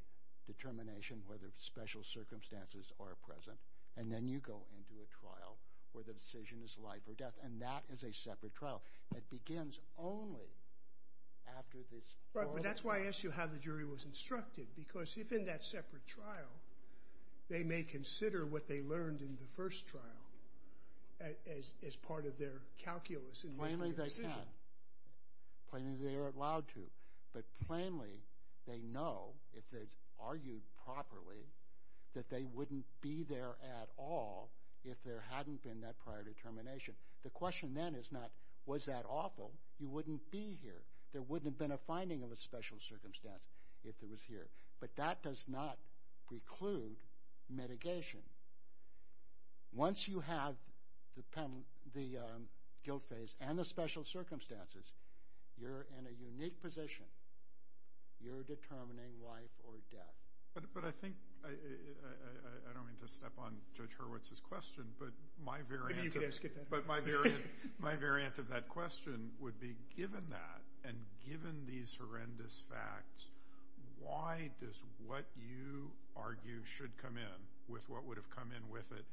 determination whether special circumstances are present, and then you go into a trial where the decision is life or death, and that is a separate trial. It begins only after this. Right, but that's why I asked you how the jury was instructed, because if in that separate trial they may consider what they learned in the first trial as part of their calculus. Plainly they can. Plainly they are allowed to. But plainly they know, if it's argued properly, that they wouldn't be there at all if there hadn't been that prior determination. The question then is not, was that awful? You wouldn't be here. There wouldn't have been a finding of a special circumstance if it was here. But that does not preclude mitigation. Once you have the guilt phase and the special circumstances, you're in a unique position. You're determining life or death. But I think, I don't mean to step on Judge Hurwitz's question, but my variant of that question would be, given that and given these horrendous facts, why does what you argue should come in with what would have come in with it,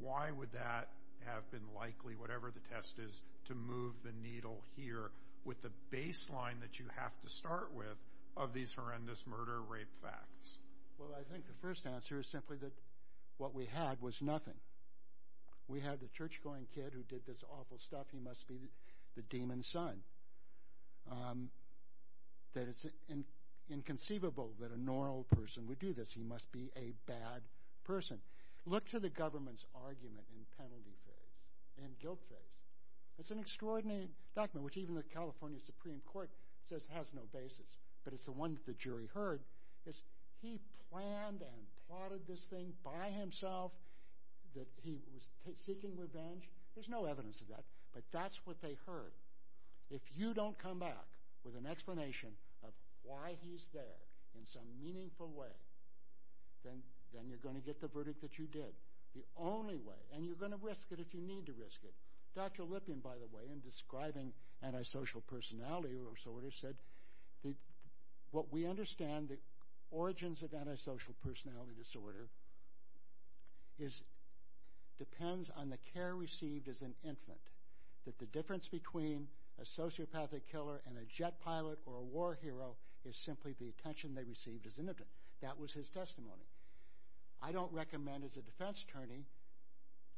why would that have been likely, whatever the test is, to move the needle here with the baseline that you have to start with of these horrendous murder-rape facts? Well, I think the first answer is simply that what we had was nothing. We had the church-going kid who did this awful stuff. He must be the demon's son. That it's inconceivable that a normal person would do this. He must be a bad person. Look to the government's argument in penalty phase, in guilt phase. It's an extraordinary document, which even the California Supreme Court says has no basis, but it's the one that the jury heard. He planned and plotted this thing by himself, that he was seeking revenge. There's no evidence of that, but that's what they heard. If you don't come back with an explanation of why he's there in some meaningful way, then you're going to get the verdict that you did. The only way, and you're going to risk it if you need to risk it. Dr. Lipien, by the way, in describing antisocial personality disorder, said what we understand, the origins of antisocial personality disorder, depends on the care received as an infant. That the difference between a sociopathic killer and a jet pilot or a war hero is simply the attention they received as an infant. That was his testimony. I don't recommend, as a defense attorney,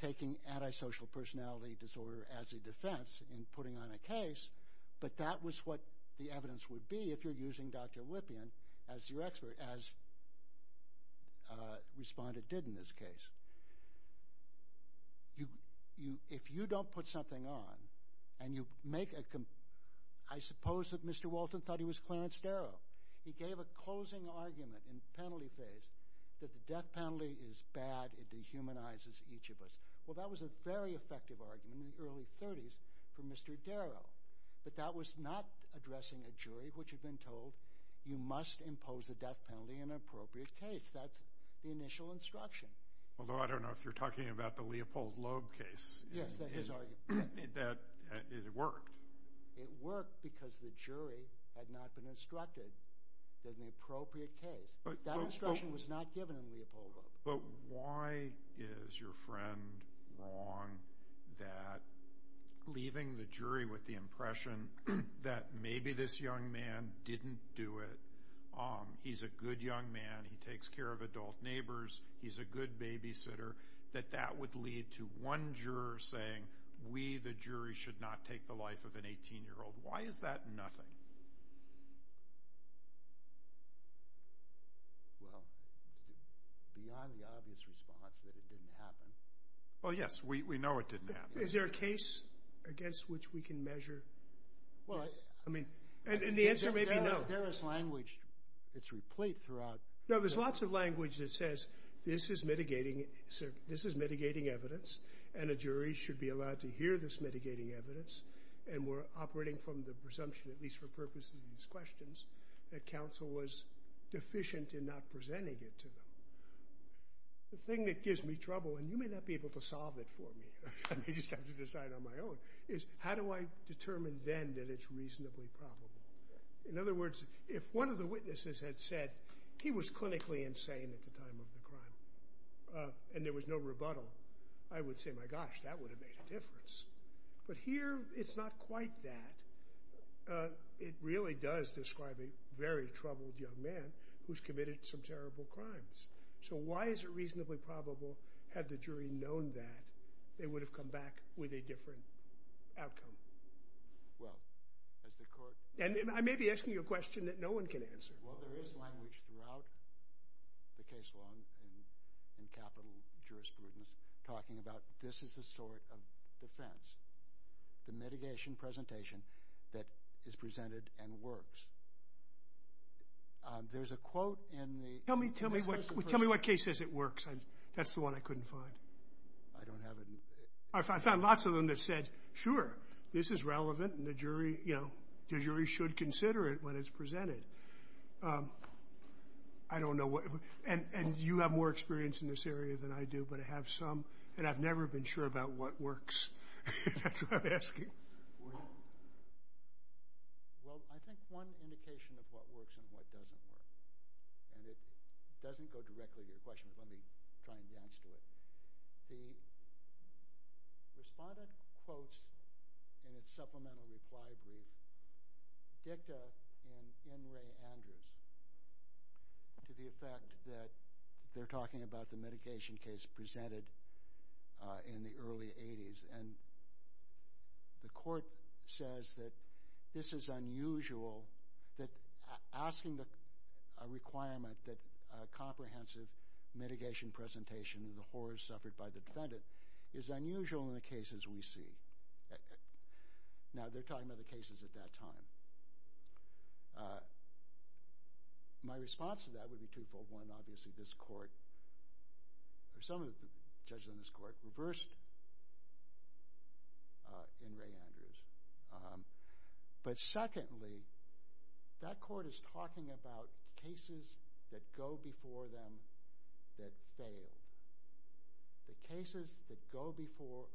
taking antisocial personality disorder as a defense in putting on a case, but that was what the evidence would be if you're using Dr. Lipien as your expert, as Respondent did in this case. If you don't put something on and you make a... I suppose that Mr. Walton thought he was Clarence Darrow. He gave a closing argument in the penalty phase that the death penalty is bad, it dehumanizes each of us. Well, that was a very effective argument in the early 30s for Mr. Darrow, but that was not addressing a jury which had been told, you must impose a death penalty in an appropriate case. That's the initial instruction. Although I don't know if you're talking about the Leopold Loeb case. Yes, that is his argument. It worked. It worked because the jury had not been instructed in the appropriate case. That instruction was not given in Leopold Loeb. But why is your friend wrong that leaving the jury with the impression that maybe this young man didn't do it, he's a good young man, he takes care of adult neighbors, he's a good babysitter, that that would lead to one juror saying, we, the jury, should not take the life of an 18-year-old. Why is that nothing? Well, beyond the obvious response that it didn't happen. Well, yes, we know it didn't happen. Is there a case against which we can measure? Yes. And the answer may be no. There is language that's replete throughout. No, there's lots of language that says this is mitigating evidence and a jury should be allowed to hear this mitigating evidence and we're operating from the presumption, at least for purposes of these questions, that counsel was deficient in not presenting it to them. The thing that gives me trouble, and you may not be able to solve it for me, I may just have to decide on my own, is how do I determine then that it's reasonably probable? In other words, if one of the witnesses had said, he was clinically insane at the time of the crime and there was no rebuttal, I would say, my gosh, that would have made a difference. But here it's not quite that. It really does describe a very troubled young man who's committed some terrible crimes. So why is it reasonably probable, had the jury known that, they would have come back with a different outcome? Well, as the court... And I may be asking you a question that no one can answer. Well, there is language throughout the case law and capital jurisprudence talking about this is the sort of defense, the mitigation presentation that is presented and works. There's a quote in the... Tell me what case says it works. That's the one I couldn't find. I don't have it. I found lots of them that said, sure, this is relevant, and the jury should consider it when it's presented. I don't know what... And you have more experience in this area than I do, but I have some, and I've never been sure about what works. That's what I'm asking. Well, I think one indication of what works and what doesn't work, and it doesn't go directly to your question, but let me try and get to it. The respondent quotes in its supplemental reply brief dicta in N. Ray Andrews to the effect that they're talking about the mitigation case presented in the early 80s, and the court says that this is unusual, that asking a requirement that a comprehensive mitigation presentation of the horrors suffered by the defendant is unusual in the cases we see. Now, they're talking about the cases at that time. My response to that would be twofold. One, obviously this court, or some of the judges on this court, reversed N. Ray Andrews. But secondly, that court is talking about cases that go before them that failed. The cases that go before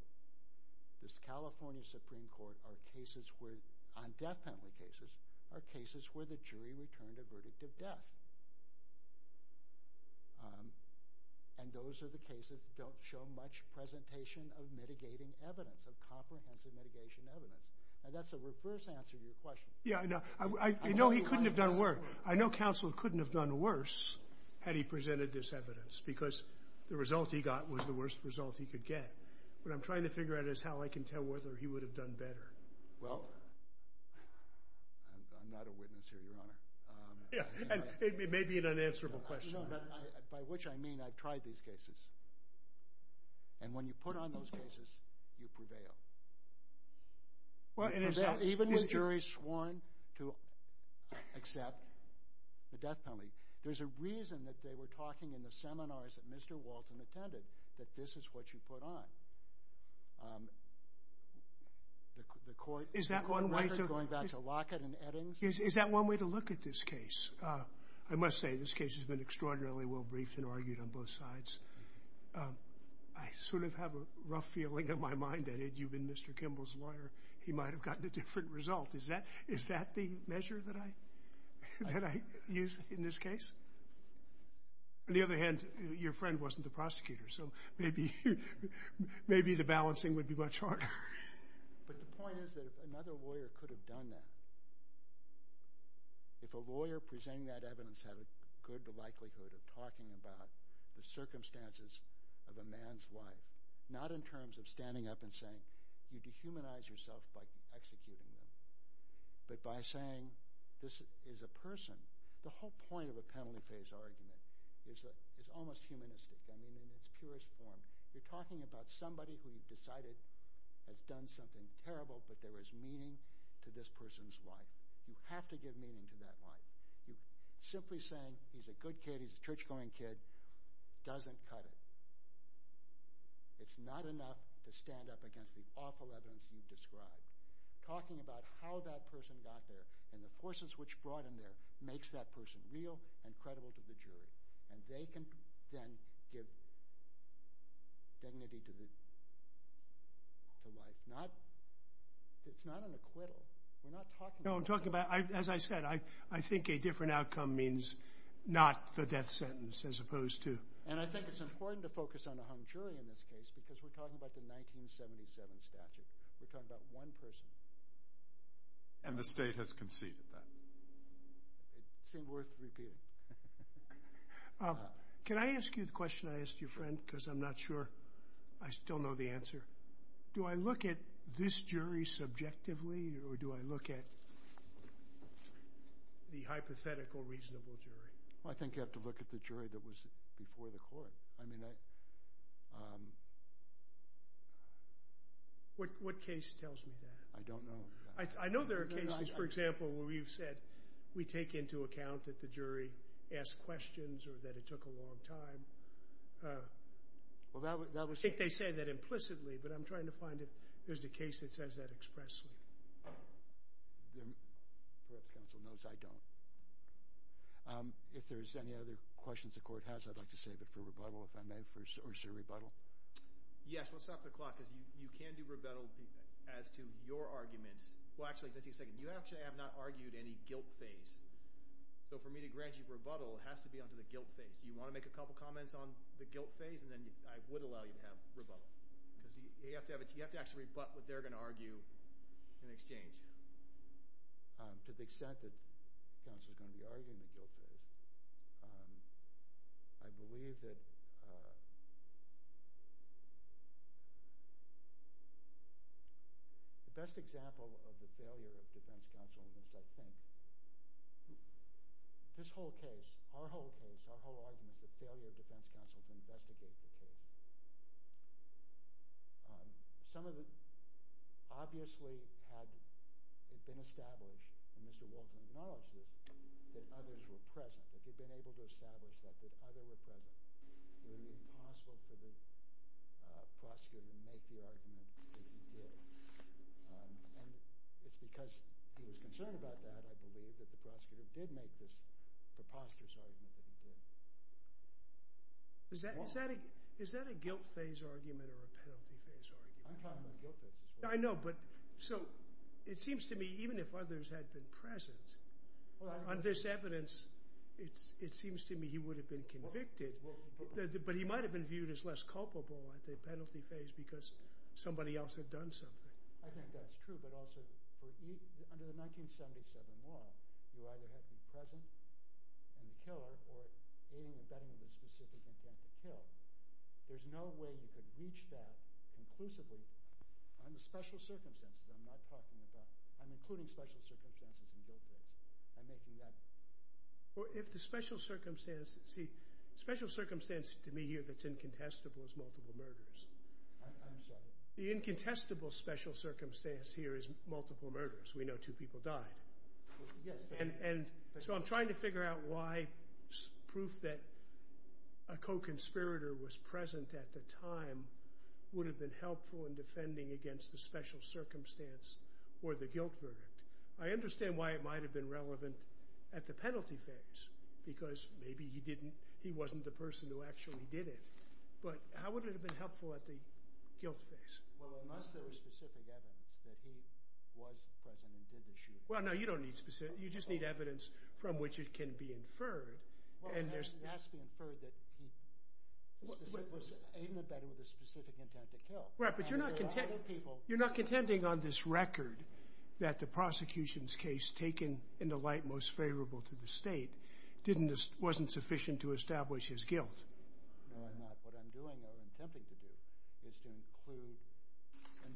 this California Supreme Court on death penalty cases are cases where the jury returned a verdict of death, and those are the cases that don't show much presentation of mitigating evidence, of comprehensive mitigation evidence. Now, that's a reverse answer to your question. Yeah, I know. I know he couldn't have done worse. I know counsel couldn't have done worse had he presented this evidence because the result he got was the worst result he could get. What I'm trying to figure out is how I can tell whether he would have done better. Well, I'm not a witness here, Your Honor. Yeah, and it may be an unanswerable question. By which I mean I've tried these cases, and when you put on those cases, you prevail. Even the jury sworn to accept the death penalty. There's a reason that they were talking in the seminars that Mr. Walton attended that this is what you put on. The court record going back to Lockett and Eddings. Is that one way to look at this case? I must say this case has been extraordinarily well briefed and argued on both sides. I sort of have a rough feeling in my mind that had you been Mr. Kimball's lawyer, he might have gotten a different result. Is that the measure that I use in this case? On the other hand, your friend wasn't the prosecutor, so maybe the balancing would be much harder. But the point is that another lawyer could have done that. If a lawyer presenting that evidence had a good likelihood of talking about the circumstances of a man's life, not in terms of standing up and saying, you dehumanize yourself by executing them, but by saying this is a person. The whole point of a penalty phase argument is almost humanistic. I mean in its purest form, you're talking about somebody who you've decided has done something terrible, but there is meaning to this person's life. You have to give meaning to that life. Simply saying he's a good kid, he's a church-going kid, doesn't cut it. It's not enough to stand up against the awful evidence you've described. Talking about how that person got there and the forces which brought him there makes that person real and credible to the jury, and they can then give dignity to life. It's not an acquittal. No, I'm talking about, as I said, I think a different outcome means not the death sentence as opposed to... And I think it's important to focus on a hung jury in this case because we're talking about the 1977 statute. We're talking about one person. And the state has conceded that. It seemed worth repeating. Can I ask you the question I asked your friend? Because I'm not sure I still know the answer. Do I look at this jury subjectively, or do I look at the hypothetical reasonable jury? I think you have to look at the jury that was before the court. I mean, I... What case tells me that? I don't know. I know there are cases, for example, where you've said we take into account that the jury asked questions or that it took a long time. Well, that was... I think they say that implicitly, but I'm trying to find if there's a case that says that expressly. Perhaps counsel knows I don't. If there's any other questions the court has, I'd like to save it for rebuttal, if I may. Or is there rebuttal? Yes, we'll stop the clock because you can do rebuttal as to your arguments. Well, actually, let's take a second. You actually have not argued any guilt phase. So for me to grant you rebuttal has to be on to the guilt phase. Do you want to make a couple comments on the guilt phase? And then I would allow you to have rebuttal. Because you have to actually rebut what they're going to argue in exchange. To the extent that counsel is going to be arguing the guilt phase, I believe that... This whole case, our whole case, our whole argument, is the failure of defense counsel to investigate the case. Some of it obviously had been established, and Mr. Walton acknowledged this, that others were present. If you'd been able to establish that, that others were present, it would have been impossible for the prosecutor to make the argument that he did. And it's because he was concerned about that, I believe, that the prosecutor did make this preposterous argument that he did. Is that a guilt phase argument or a penalty phase argument? I'm talking about guilt phase as well. I know, but so it seems to me even if others had been present on this evidence, it seems to me he would have been convicted. But he might have been viewed as less culpable at the penalty phase because somebody else had done something. I think that's true, but also under the 1977 law, you either have the present and the killer or aiding and abetting of a specific intent to kill. There's no way you could reach that conclusively on the special circumstances. I'm not talking about... I'm including special circumstances in guilt phase. I'm making that... Well, if the special circumstances... See, special circumstances to me here that's incontestable is multiple murders. I'm sorry. The incontestable special circumstance here is multiple murders. We know two people died. So I'm trying to figure out why proof that a co-conspirator was present at the time would have been helpful in defending against the special circumstance or the guilt verdict. I understand why it might have been relevant at the penalty phase because maybe he wasn't the person who actually did it. But how would it have been helpful at the guilt phase? Well, unless there was specific evidence that he was present and did the shooting. Well, no, you don't need specific. You just need evidence from which it can be inferred. It has to be inferred that he was aiding and abetting with a specific intent to kill. Right, but you're not contending on this record that the prosecution's case taken in the light most favorable to the state wasn't sufficient to establish his guilt. No, I'm not. What I'm doing or attempting to do is to include and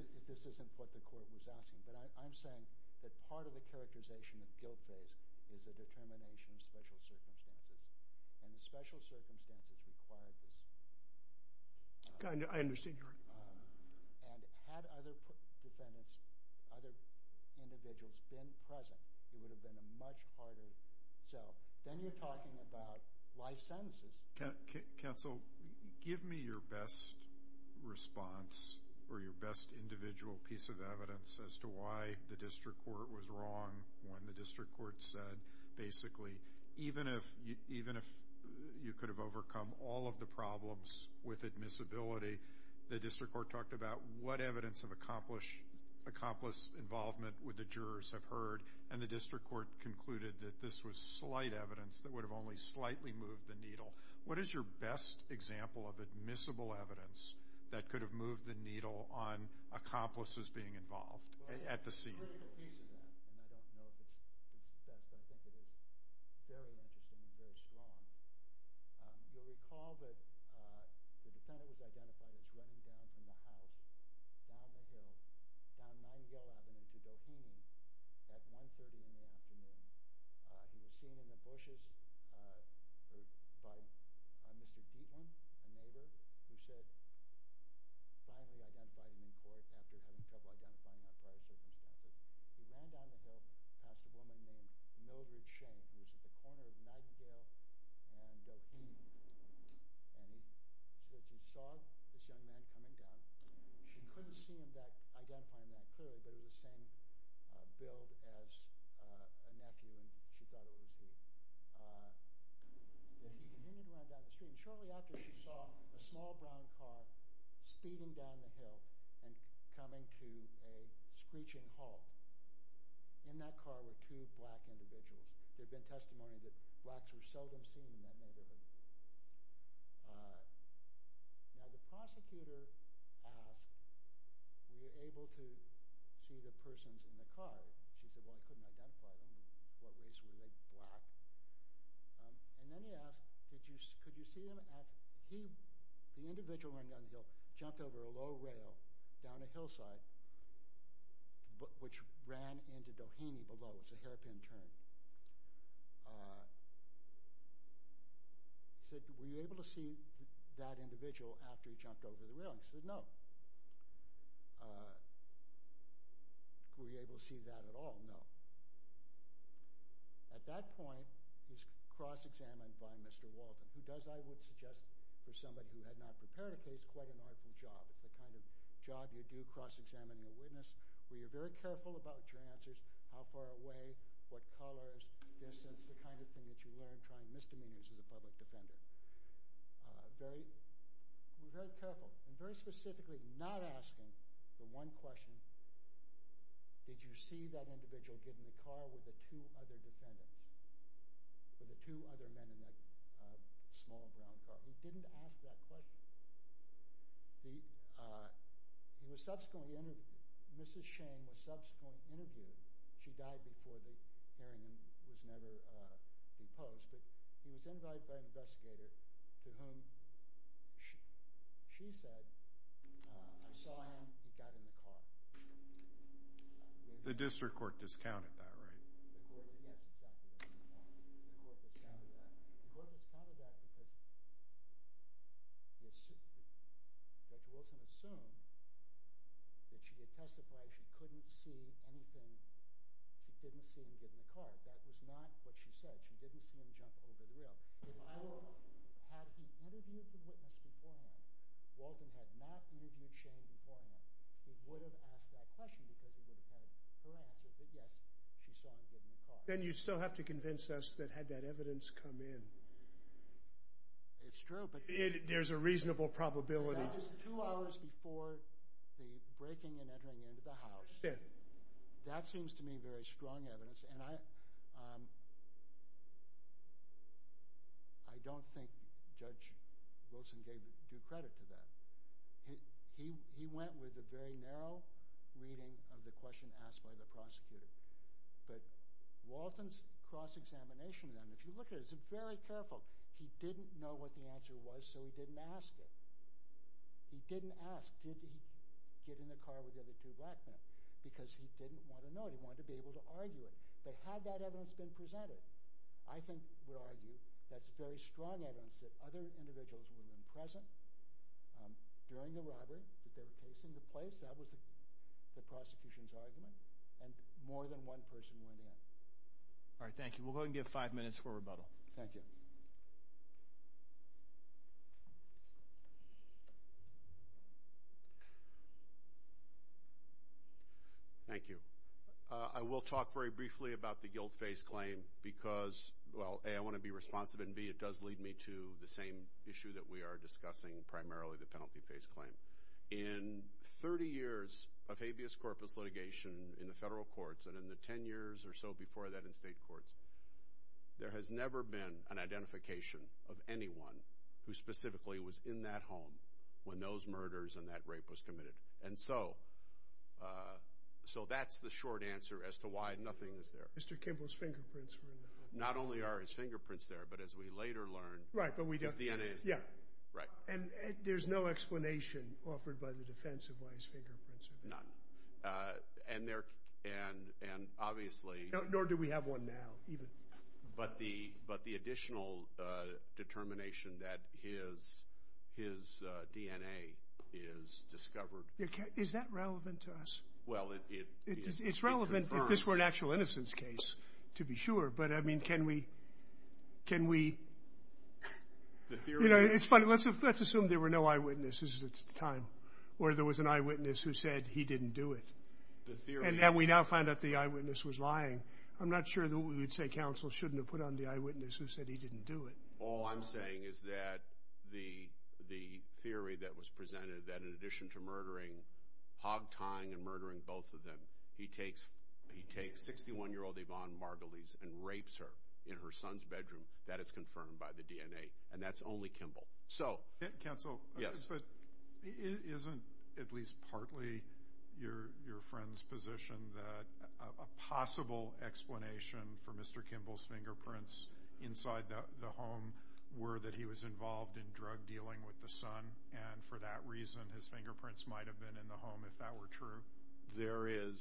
this isn't what the court was asking, but I'm saying that part of the characterization of guilt phase is a determination of special circumstances, and the special circumstances required this. I understand your argument. And had other defendants, other individuals been present, it would have been a much harder. Then you're talking about life sentences. Counsel, give me your best response or your best individual piece of evidence as to why the district court was wrong when the district court said, basically, even if you could have overcome all of the problems with admissibility, the district court talked about what evidence of accomplice involvement would the jurors have heard, and the district court concluded that this was slight evidence that would have only slightly moved the needle. What is your best example of admissible evidence that could have moved the needle on accomplices being involved at the scene? Well, there's a critical piece of that, and I don't know if it's the best. I think it is very interesting and very strong. You'll recall that the defendant was identified as running down from the house, down the hill, down Nightingale Avenue to Doheny at 1.30 in the afternoon. He was seen in the bushes by Mr. Dietland, a neighbor, who said, finally identifying him in court after having trouble identifying him under prior circumstances. He ran down the hill past a woman named Notary Shane. He was at the corner of Nightingale and Doheny. And he saw this young man coming down. She couldn't see him identifying that clearly, but it was the same build as a nephew, and she thought it was him. He continued to run down the street, and shortly after she saw a small brown car speeding down the hill and coming to a screeching halt. In that car were two black individuals. There had been testimony that blacks were seldom seen in that neighborhood. Now the prosecutor asked, were you able to see the persons in the car? She said, well, I couldn't identify them. What race were they? Black. And then he asked, could you see them? He, the individual running down the hill, jumped over a low rail down a hillside, which ran into Doheny below. It was a hairpin turn. He said, were you able to see that individual after he jumped over the rail? He said, no. Were you able to see that at all? No. At that point, he was cross-examined by Mr. Walton, who does, I would suggest, for somebody who had not prepared a case, quite an artful job. It's the kind of job you do cross-examining a witness where you're very careful about your answers, how far away, what colors, distance, the kind of thing that you learn trying misdemeanors as a public defender. Very, very careful, and very specifically not asking the one question, did you see that individual get in the car with the two other defendants, with the two other men in that small brown car? He didn't ask that question. He was subsequently interviewed, Mrs. Shane was subsequently interviewed. She died before the hearing and was never deposed, but he was invited by an investigator to whom she said, I saw him, he got in the car. The district court discounted that, right? The court, yes, it discounted that. The court discounted that. The court discounted that because Judge Wilson assumed that she had testified she couldn't see anything, she didn't see him get in the car. That was not what she said. She didn't see him jump over the rail. Had he interviewed the witness beforehand, Walden had not interviewed Shane beforehand, he would have asked that question because he would have had her answer, but yes, she saw him get in the car. Then you'd still have to convince us that had that evidence come in. It's true, but... There's a reasonable probability. Just two hours before the breaking and entering into the house, that seems to me very strong evidence, and I don't think Judge Wilson gave due credit to that. He went with a very narrow reading of the question asked by the prosecutor, but Walden's cross-examination, if you look at it, is very careful. He didn't know what the answer was, so he didn't ask it. He didn't ask, did he get in the car with the other two black men, because he didn't want to know, he wanted to be able to argue it. But had that evidence been presented, I think we'll argue that's very strong evidence that other individuals were present during the robbery, that they were facing the place, that was the prosecution's argument, and more than one person went in. All right, thank you. We'll go ahead and give five minutes for rebuttal. Thank you. Thank you. I will talk very briefly about the guilt-faced claim because, well, A, I want to be responsive, and B, it does lead me to the same issue that we are discussing, primarily the penalty-faced claim. In 30 years of habeas corpus litigation in the federal courts and in the 10 years or so before that in state courts, there has never been an identification of anyone who specifically was in that home when those murders and that rape was committed. And so that's the short answer as to why nothing is there. Mr. Kimball's fingerprints were in the home. Not only are his fingerprints there, but as we later learned, his DNA is there. Right, and there's no explanation offered by the defense of why his fingerprints are there. None. And obviously... Nor do we have one now, even. But the additional determination that his DNA is discovered... Is that relevant to us? Well, it confirms... It's relevant if this were an actual innocence case, to be sure. But, I mean, can we... You know, it's funny. Let's assume there were no eyewitnesses at the time or there was an eyewitness who said he didn't do it. And now we now find out the eyewitness was lying. I'm not sure that we would say counsel shouldn't have put on the eyewitness who said he didn't do it. All I'm saying is that the theory that was presented, that in addition to murdering Hogtong and murdering both of them, he takes 61-year-old Yvonne Margulies and rapes her in her son's bedroom, that is confirmed by the DNA. And that's only Kimball. Counsel, isn't at least partly your friend's position that a possible explanation for Mr. Kimball's fingerprints inside the home were that he was involved in drug dealing with the son, and for that reason his fingerprints might have been in the home if that were true? There is.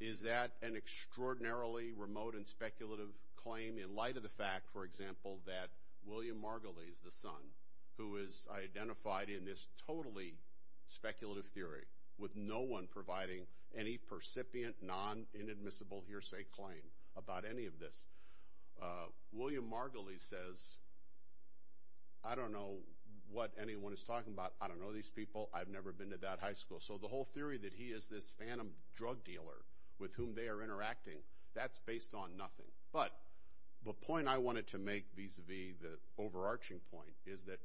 Is that an extraordinarily remote and speculative claim in light of the fact, for example, that William Margulies, the son, who is identified in this totally speculative theory with no one providing any percipient, non-inadmissible hearsay claim about any of this. William Margulies says, I don't know what anyone is talking about. I don't know these people. I've never been to that high school. So the whole theory that he is this phantom drug dealer with whom they are interacting, that's based on nothing. But the point I wanted to make vis-à-vis the overarching point is that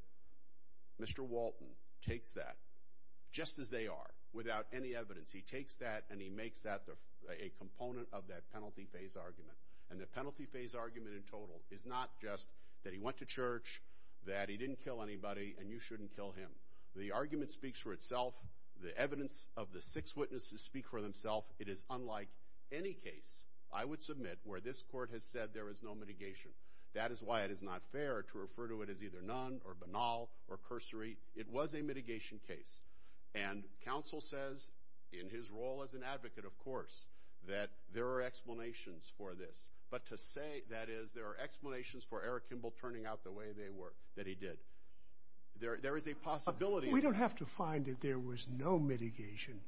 Mr. Walton takes that, just as they are, without any evidence. He takes that, and he makes that a component of that penalty phase argument. And the penalty phase argument in total is not just that he went to church, that he didn't kill anybody, and you shouldn't kill him. The argument speaks for itself. The evidence of the six witnesses speak for themselves. It is unlike any case, I would submit, where this court has said there is no mitigation. That is why it is not fair to refer to it as either none or banal or cursory. It was a mitigation case. And counsel says, in his role as an advocate, of course, that there are explanations for this. But to say, that is, there are explanations for Eric Kimball turning out the way that he did, there is a possibility of that. We don't have to find that there was no mitigation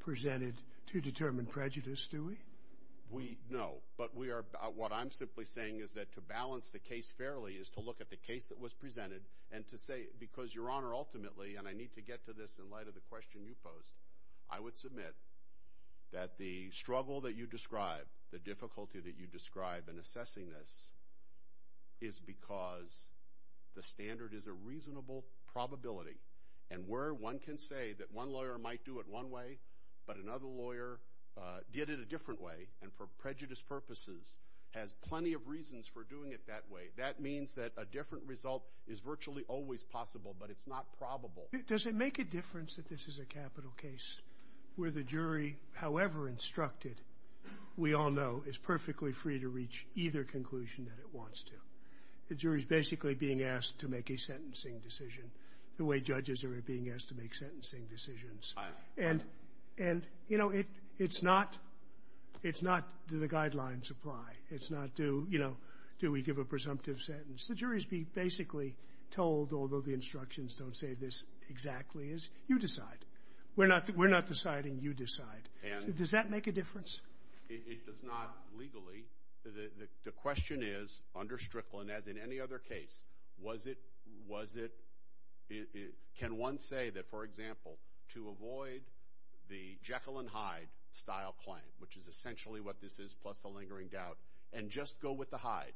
presented to determine prejudice, do we? No. But what I'm simply saying is that to balance the case fairly is to look at the case that was presented and to say, because, Your Honor, ultimately, and I need to get to this in light of the question you posed, I would submit that the struggle that you describe, the difficulty that you describe in assessing this, is because the standard is a reasonable probability. And where one can say that one lawyer might do it one way, but another lawyer did it a different way, and for prejudice purposes has plenty of reasons for doing it that way, that means that a different result is virtually always possible, but it's not probable. Does it make a difference that this is a capital case where the jury, however instructed, we all know, is perfectly free to reach either conclusion that it wants to? The jury is basically being asked to make a sentencing decision, the way judges are being asked to make sentencing decisions. And, you know, it's not do the guidelines apply. It's not do, you know, do we give a presumptive sentence. The jury is being basically told, although the instructions don't say this exactly is, you decide. We're not deciding. You decide. Does that make a difference? It does not legally. The question is, under Strickland, as in any other case, was it, can one say that, for example, to avoid the Jekyll and Hyde style claim, which is essentially what this is, plus the lingering doubt, and just go with the Hyde,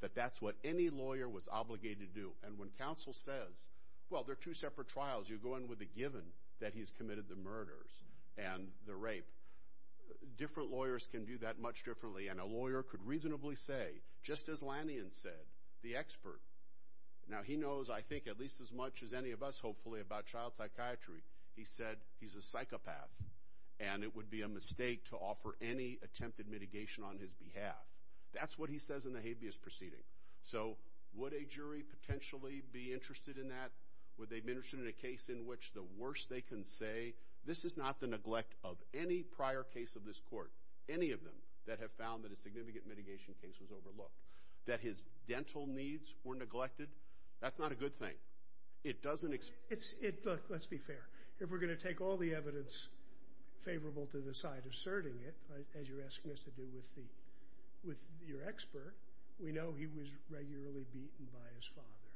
that that's what any lawyer was obligated to do. And when counsel says, well, they're two separate trials. You go in with a given that he's committed the murders and the rape. Different lawyers can do that much differently, and a lawyer could reasonably say, just as Lanyon said, the expert. Now, he knows, I think, at least as much as any of us, hopefully, about child psychiatry. He said he's a psychopath, and it would be a mistake to offer any attempted mitigation on his behalf. That's what he says in the habeas proceeding. So would a jury potentially be interested in that? Would they be interested in a case in which the worst they can say, this is not the neglect of any prior case of this court, any of them, that have found that a significant mitigation case was overlooked? That his dental needs were neglected? That's not a good thing. It doesn't explain. Look, let's be fair. If we're going to take all the evidence favorable to the side asserting it, as you're asking us to do with your expert, we know he was regularly beaten by his father.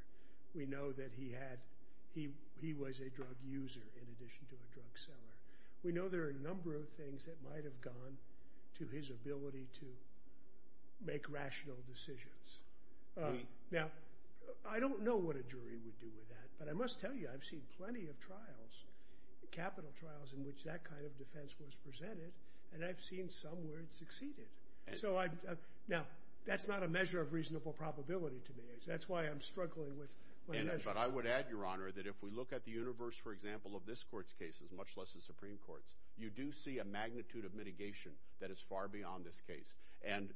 We know that he was a drug user in addition to a drug seller. We know there are a number of things that might have gone to his ability to make rational decisions. Now, I don't know what a jury would do with that, but I must tell you, I've seen plenty of trials, capital trials, in which that kind of defense was presented, and I've seen some where it succeeded. Now, that's not a measure of reasonable probability to me. That's why I'm struggling with a measure. But I would add, Your Honor, that if we look at the universe, for example, of this court's cases, much less the Supreme Court's, you do see a magnitude of mitigation that is far beyond this case. And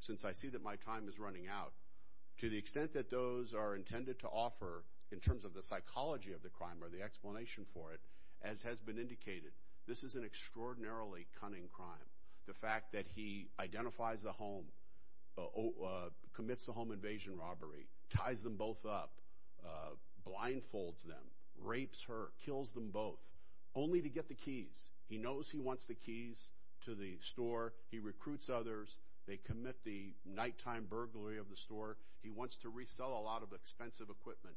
since I see that my time is running out, to the extent that those are intended to offer in terms of the psychology of the crime or the explanation for it, as has been indicated, this is an extraordinarily cunning crime. The fact that he identifies the home, commits a home invasion robbery, ties them both up, blindfolds them, rapes her, kills them both, only to get the keys. He knows he wants the keys to the store. He recruits others. They commit the nighttime burglary of the store. He wants to resell a lot of expensive equipment.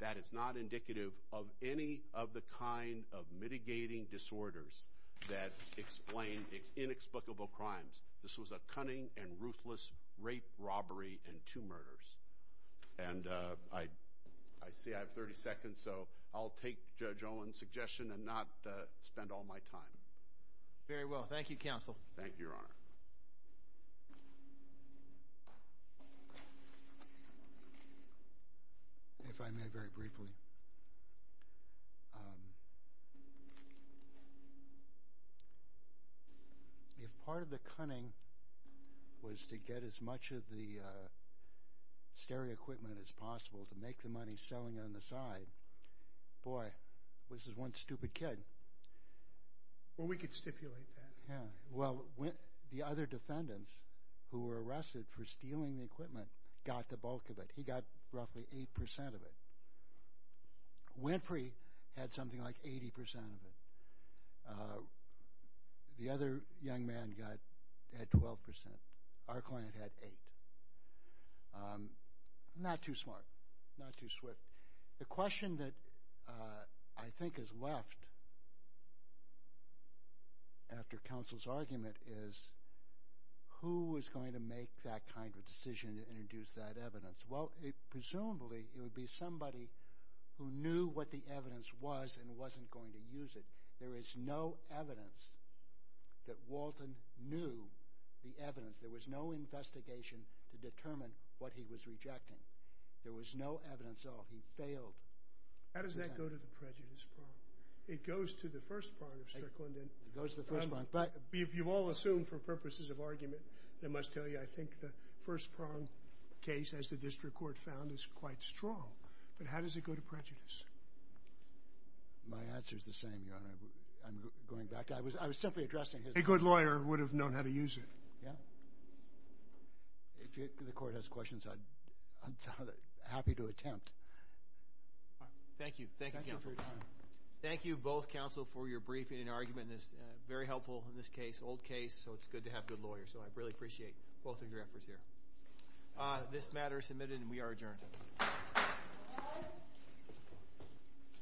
That is not indicative of any of the kind of mitigating disorders that explain inexplicable crimes. This was a cunning and ruthless rape, robbery, and two murders. And I see I have 30 seconds, so I'll take Judge Olin's suggestion and not spend all my time. Very well. Thank you, Your Honor. If I may very briefly. If part of the cunning was to get as much of the stary equipment as possible to make the money selling on the side, boy, this is one stupid kid. Well, we could stipulate that. Yeah. Well, the other defendants who were arrested for stealing the equipment got the bulk of it. He got roughly 8% of it. Winfrey had something like 80% of it. The other young man had 12%. Our client had 8%. Not too smart. Not too swift. The question that I think is left after counsel's argument is, who was going to make that kind of decision to introduce that evidence? Well, presumably, it would be somebody who knew what the evidence was and wasn't going to use it. There is no evidence that Walton knew the evidence. There was no investigation to determine what he was rejecting. There was no evidence at all. He failed. How does that go to the prejudice prong? It goes to the first prong of Strickland. It goes to the first prong. You've all assumed for purposes of argument, I must tell you, I think the first prong case, as the district court found, is quite strong. But how does it go to prejudice? My answer is the same, Your Honor. I'm going back. I was simply addressing his point. A good lawyer would have known how to use it. Yeah. If the court has questions, I'm happy to attempt. Thank you. Thank you, counsel. Thank you both, counsel, for your briefing and argument. It's very helpful in this case, old case, so it's good to have good lawyers. So I really appreciate both of your efforts here. This matter is submitted and we are adjourned.